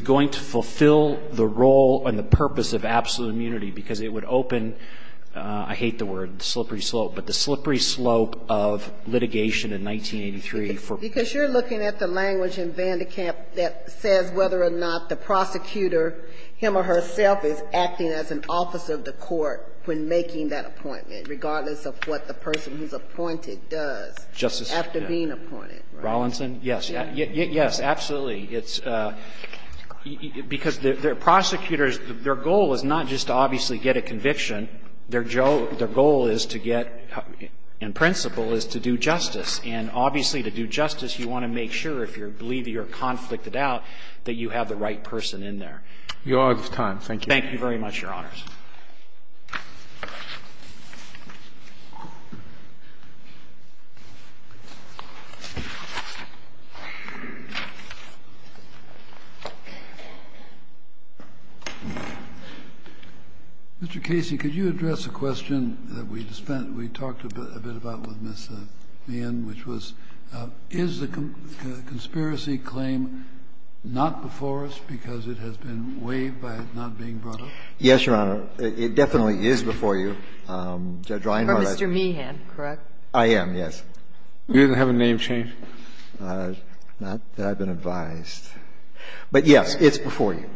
going to fulfill the role and the purpose of absolute immunity, because it would open – I hate the word, slippery slope – but the slippery slope of litigation in 1983 for – Because you're looking at the language in Vandekamp that says whether or not the prosecutor, him or herself, is acting as an officer of the court when making that appointment, regardless of what the person who's appointed does after being appointed. Rolinson? Yes. Yes, absolutely. It's – because the prosecutors, their goal is not just to obviously get a conviction. Their goal is to get – in principle, is to do justice. And obviously, to do justice, you want to make sure, if you believe you're conflicted out, that you have the right person in there. You're out of time. Thank you. Thank you very much, Your Honors. Mr. Casey, could you address a question that we talked a bit about with Ms. Meehan, which was, is the conspiracy claim not before us because it has been waived by not being brought up? Yes, Your Honor. It definitely is before you. Judge Reinhardt – You're Mr. Meehan, correct? I am, yes. You didn't have a name changed? Not that I've been advised. But, yes, it's before you.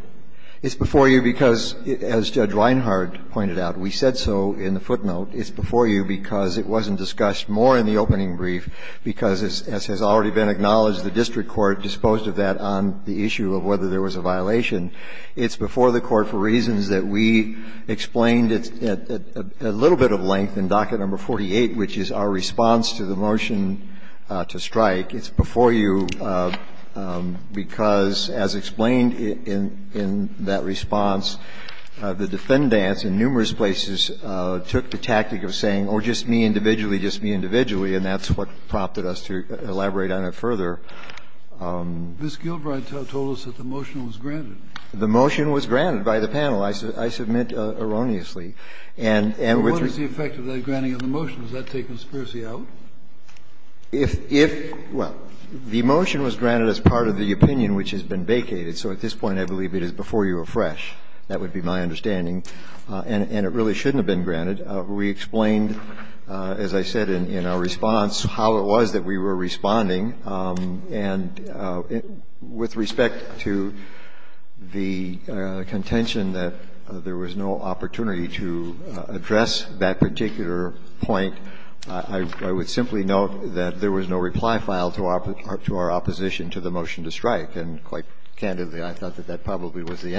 It's before you because, as Judge Reinhardt pointed out, we said so in the footnote. It's before you because it wasn't discussed more in the opening brief because, as has already been acknowledged, the district court disposed of that on the issue of whether there was a violation. It's before the Court for reasons that we explained at a little bit of length in docket number 48, which is our response to the motion to strike. It's before you because, as explained in that response, the defendants in numerous places took the tactic of saying, or just me individually, just me individually, and that's what prompted us to elaborate on it further. This is a question that I think we should ask the Court to answer. This is a question that I think we should ask the Court to answer. The motion was granted by the panel, I submit erroneously, and with the effect of that granting of the motion, does that take conspiracy out? If the motion was granted as part of the opinion which has been vacated, so at this point I believe it is before you afresh, that would be my understanding, and it really shouldn't have been granted. We explained, as I said in our response, how it was that we were responding. And with respect to the contention that there was no opportunity to address that particular point, I would simply note that there was no reply file to our opposition to the motion to strike, and quite candidly, I thought that that probably was the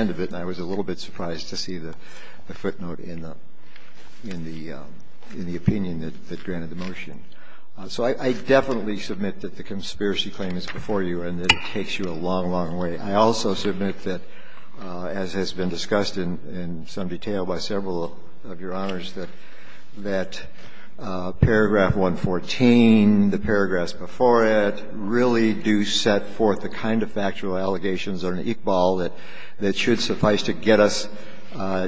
in the opinion that granted the motion. So I definitely submit that the conspiracy claim is before you and that it takes you a long, long way. I also submit that, as has been discussed in some detail by several of your Honors, that paragraph 114, the paragraphs before it, really do set forth the kind of factual allegations or an Iqbal that should suffice to get us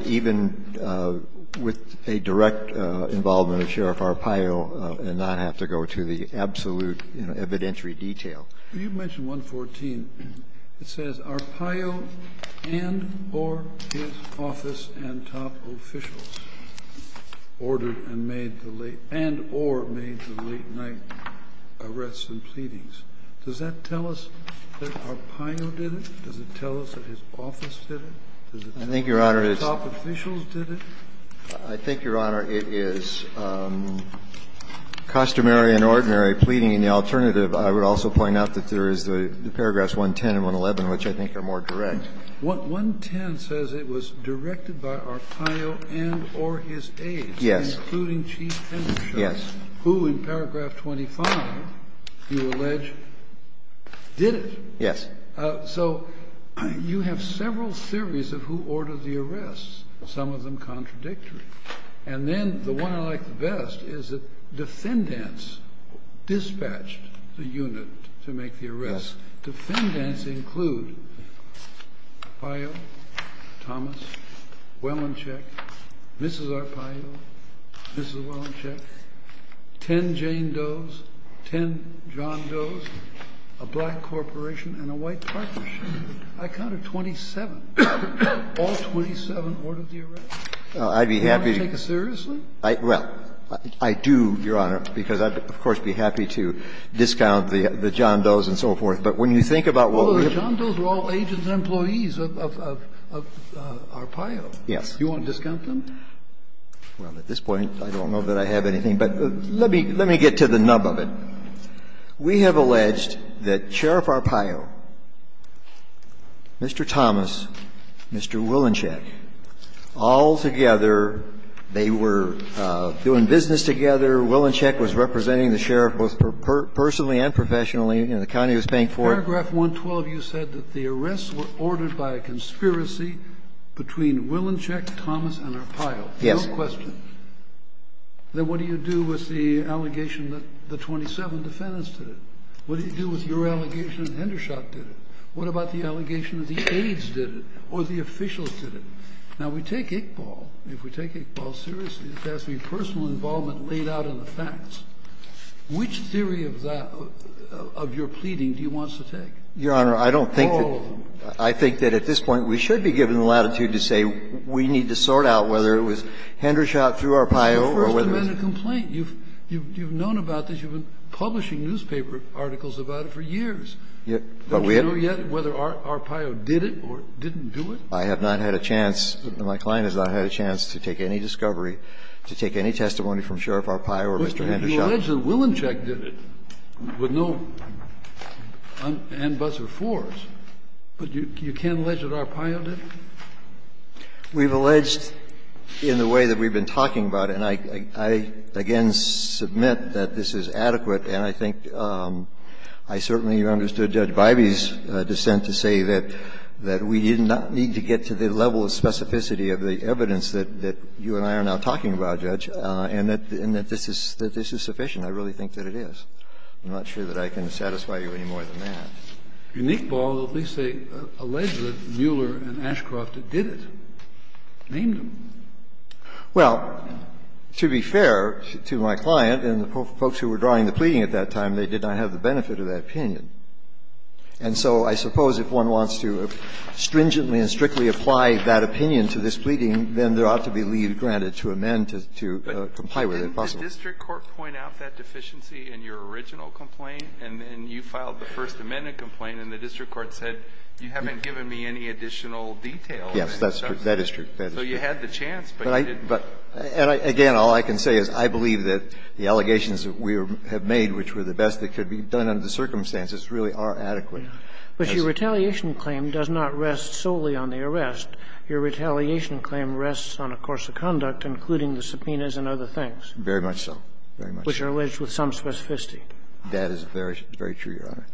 even with a direct, direct involvement of Sheriff Arpaio and not have to go to the absolute evidentiary detail. Kennedy, you mentioned 114. It says, Arpaio and or his office and top officials ordered and made the late and or made the late night arrests and pleadings. Does that tell us that Arpaio did it? Does it tell us that his office did it? Does it tell us that his top officials did it? I think, Your Honor, it is customary and ordinary pleading in the alternative. I would also point out that there is the paragraphs 110 and 111, which I think are more direct. 110 says it was directed by Arpaio and or his aides. Yes. Including Chief Henderson, who in paragraph 25, you allege, did it. Yes. So you have several theories of who ordered the arrests, some of them contradictory. And then the one I like the best is that defendants dispatched the unit to make the arrests. Defendants include Arpaio, Thomas, Wellincheck, Mrs. Arpaio, Mrs. I count it 27. All 27 ordered the arrests. I'd be happy to. Do you want to take it seriously? Well, I do, Your Honor, because I'd, of course, be happy to discount the John Does and so forth. But when you think about what we have to do. Well, the John Does were all agents and employees of Arpaio. Yes. Do you want to discount them? Well, at this point I don't know that I have anything. But let me get to the nub of it. We have alleged that Sheriff Arpaio, Mr. Thomas, Mr. Wilinchek, all together, they were doing business together, Wilinchek was representing the sheriff, both personally and professionally, and the county was paying for it. In paragraph 112, you said that the arrests were ordered by a conspiracy between Wilinchek, Thomas, and Arpaio. Yes. No question. Now, what do you do with the allegation that the 27 defendants did it? What do you do with your allegation that Hendershot did it? What about the allegation that the aides did it or the officials did it? Now, we take Iqbal. If we take Iqbal seriously, it has to be personal involvement laid out in the facts. Which theory of that, of your pleading, do you want us to take? Your Honor, I don't think that I think that at this point we should be given the latitude to say we need to sort out whether it was Hendershot, through Arpaio, or whether it was Mr. Wilinchek. You've first amended a complaint. You've known about this. You've been publishing newspaper articles about it for years. But we haven't. Don't you know yet whether Arpaio did it or didn't do it? I have not had a chance, my client has not had a chance to take any discovery, to take any testimony from Sheriff Arpaio or Mr. Hendershot. But you allege that Wilinchek did it with no and, buts, or fors. But you can't allege that Arpaio did it? We've alleged in the way that we've been talking about it, and I again submit that this is adequate, and I think I certainly understood Judge Bybee's dissent to say that we did not need to get to the level of specificity of the evidence that you and I are now talking about, Judge, and that this is sufficient. I really think that it is. I'm not sure that I can satisfy you any more than that. And Nick Ball, at least they allege that Mueller and Ashcroft did it, named them. Well, to be fair to my client and the folks who were drawing the pleading at that time, they did not have the benefit of that opinion. And so I suppose if one wants to stringently and strictly apply that opinion to this pleading, then there ought to be leave granted to amend to comply with it, if possible. But didn't the district court point out that deficiency in your original complaint? And then you filed the First Amendment complaint, and the district court said, you haven't given me any additional details. Yes, that's true. That is true. So you had the chance, but you didn't. But again, all I can say is I believe that the allegations that we have made, which were the best that could be done under the circumstances, really are adequate. But your retaliation claim does not rest solely on the arrest. Your retaliation claim rests on a course of conduct, including the subpoenas and other things. Very much so. Very much so. Which are alleged with some specificity. That is very, very true, Your Honor.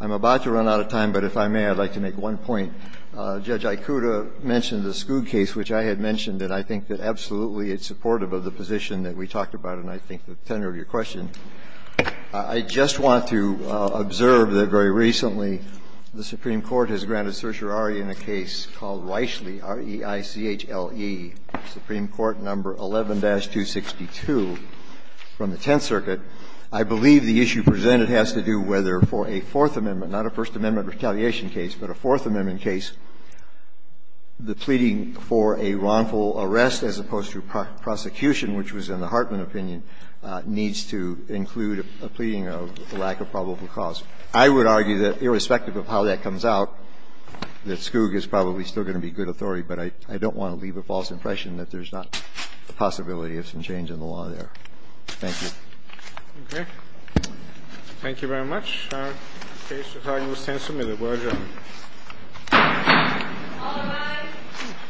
I'm about to run out of time, but if I may, I'd like to make one point. Judge Ikuta mentioned the Schood case, which I had mentioned, and I think that absolutely it's supportive of the position that we talked about in, I think, the tenor of your question. I just want to observe that very recently the Supreme Court has granted certiorari in a case called Weischle, R-E-I-C-H-L-E, Supreme Court No. 11-262 from the Tenth Circuit. I believe the issue presented has to do whether for a Fourth Amendment, not a First Amendment retaliation case, but a Fourth Amendment case, the pleading for a wrongful arrest as opposed to prosecution, which was in the Hartman opinion, needs to include a pleading of lack of probable cause. I would argue that irrespective of how that comes out, that Skoog is probably still going to be good authority, but I don't want to leave a false impression that there's not a possibility of some change in the law there. Thank you. Okay. Thank you very much. Our case is now in the stand-submitted. Well done. All rise.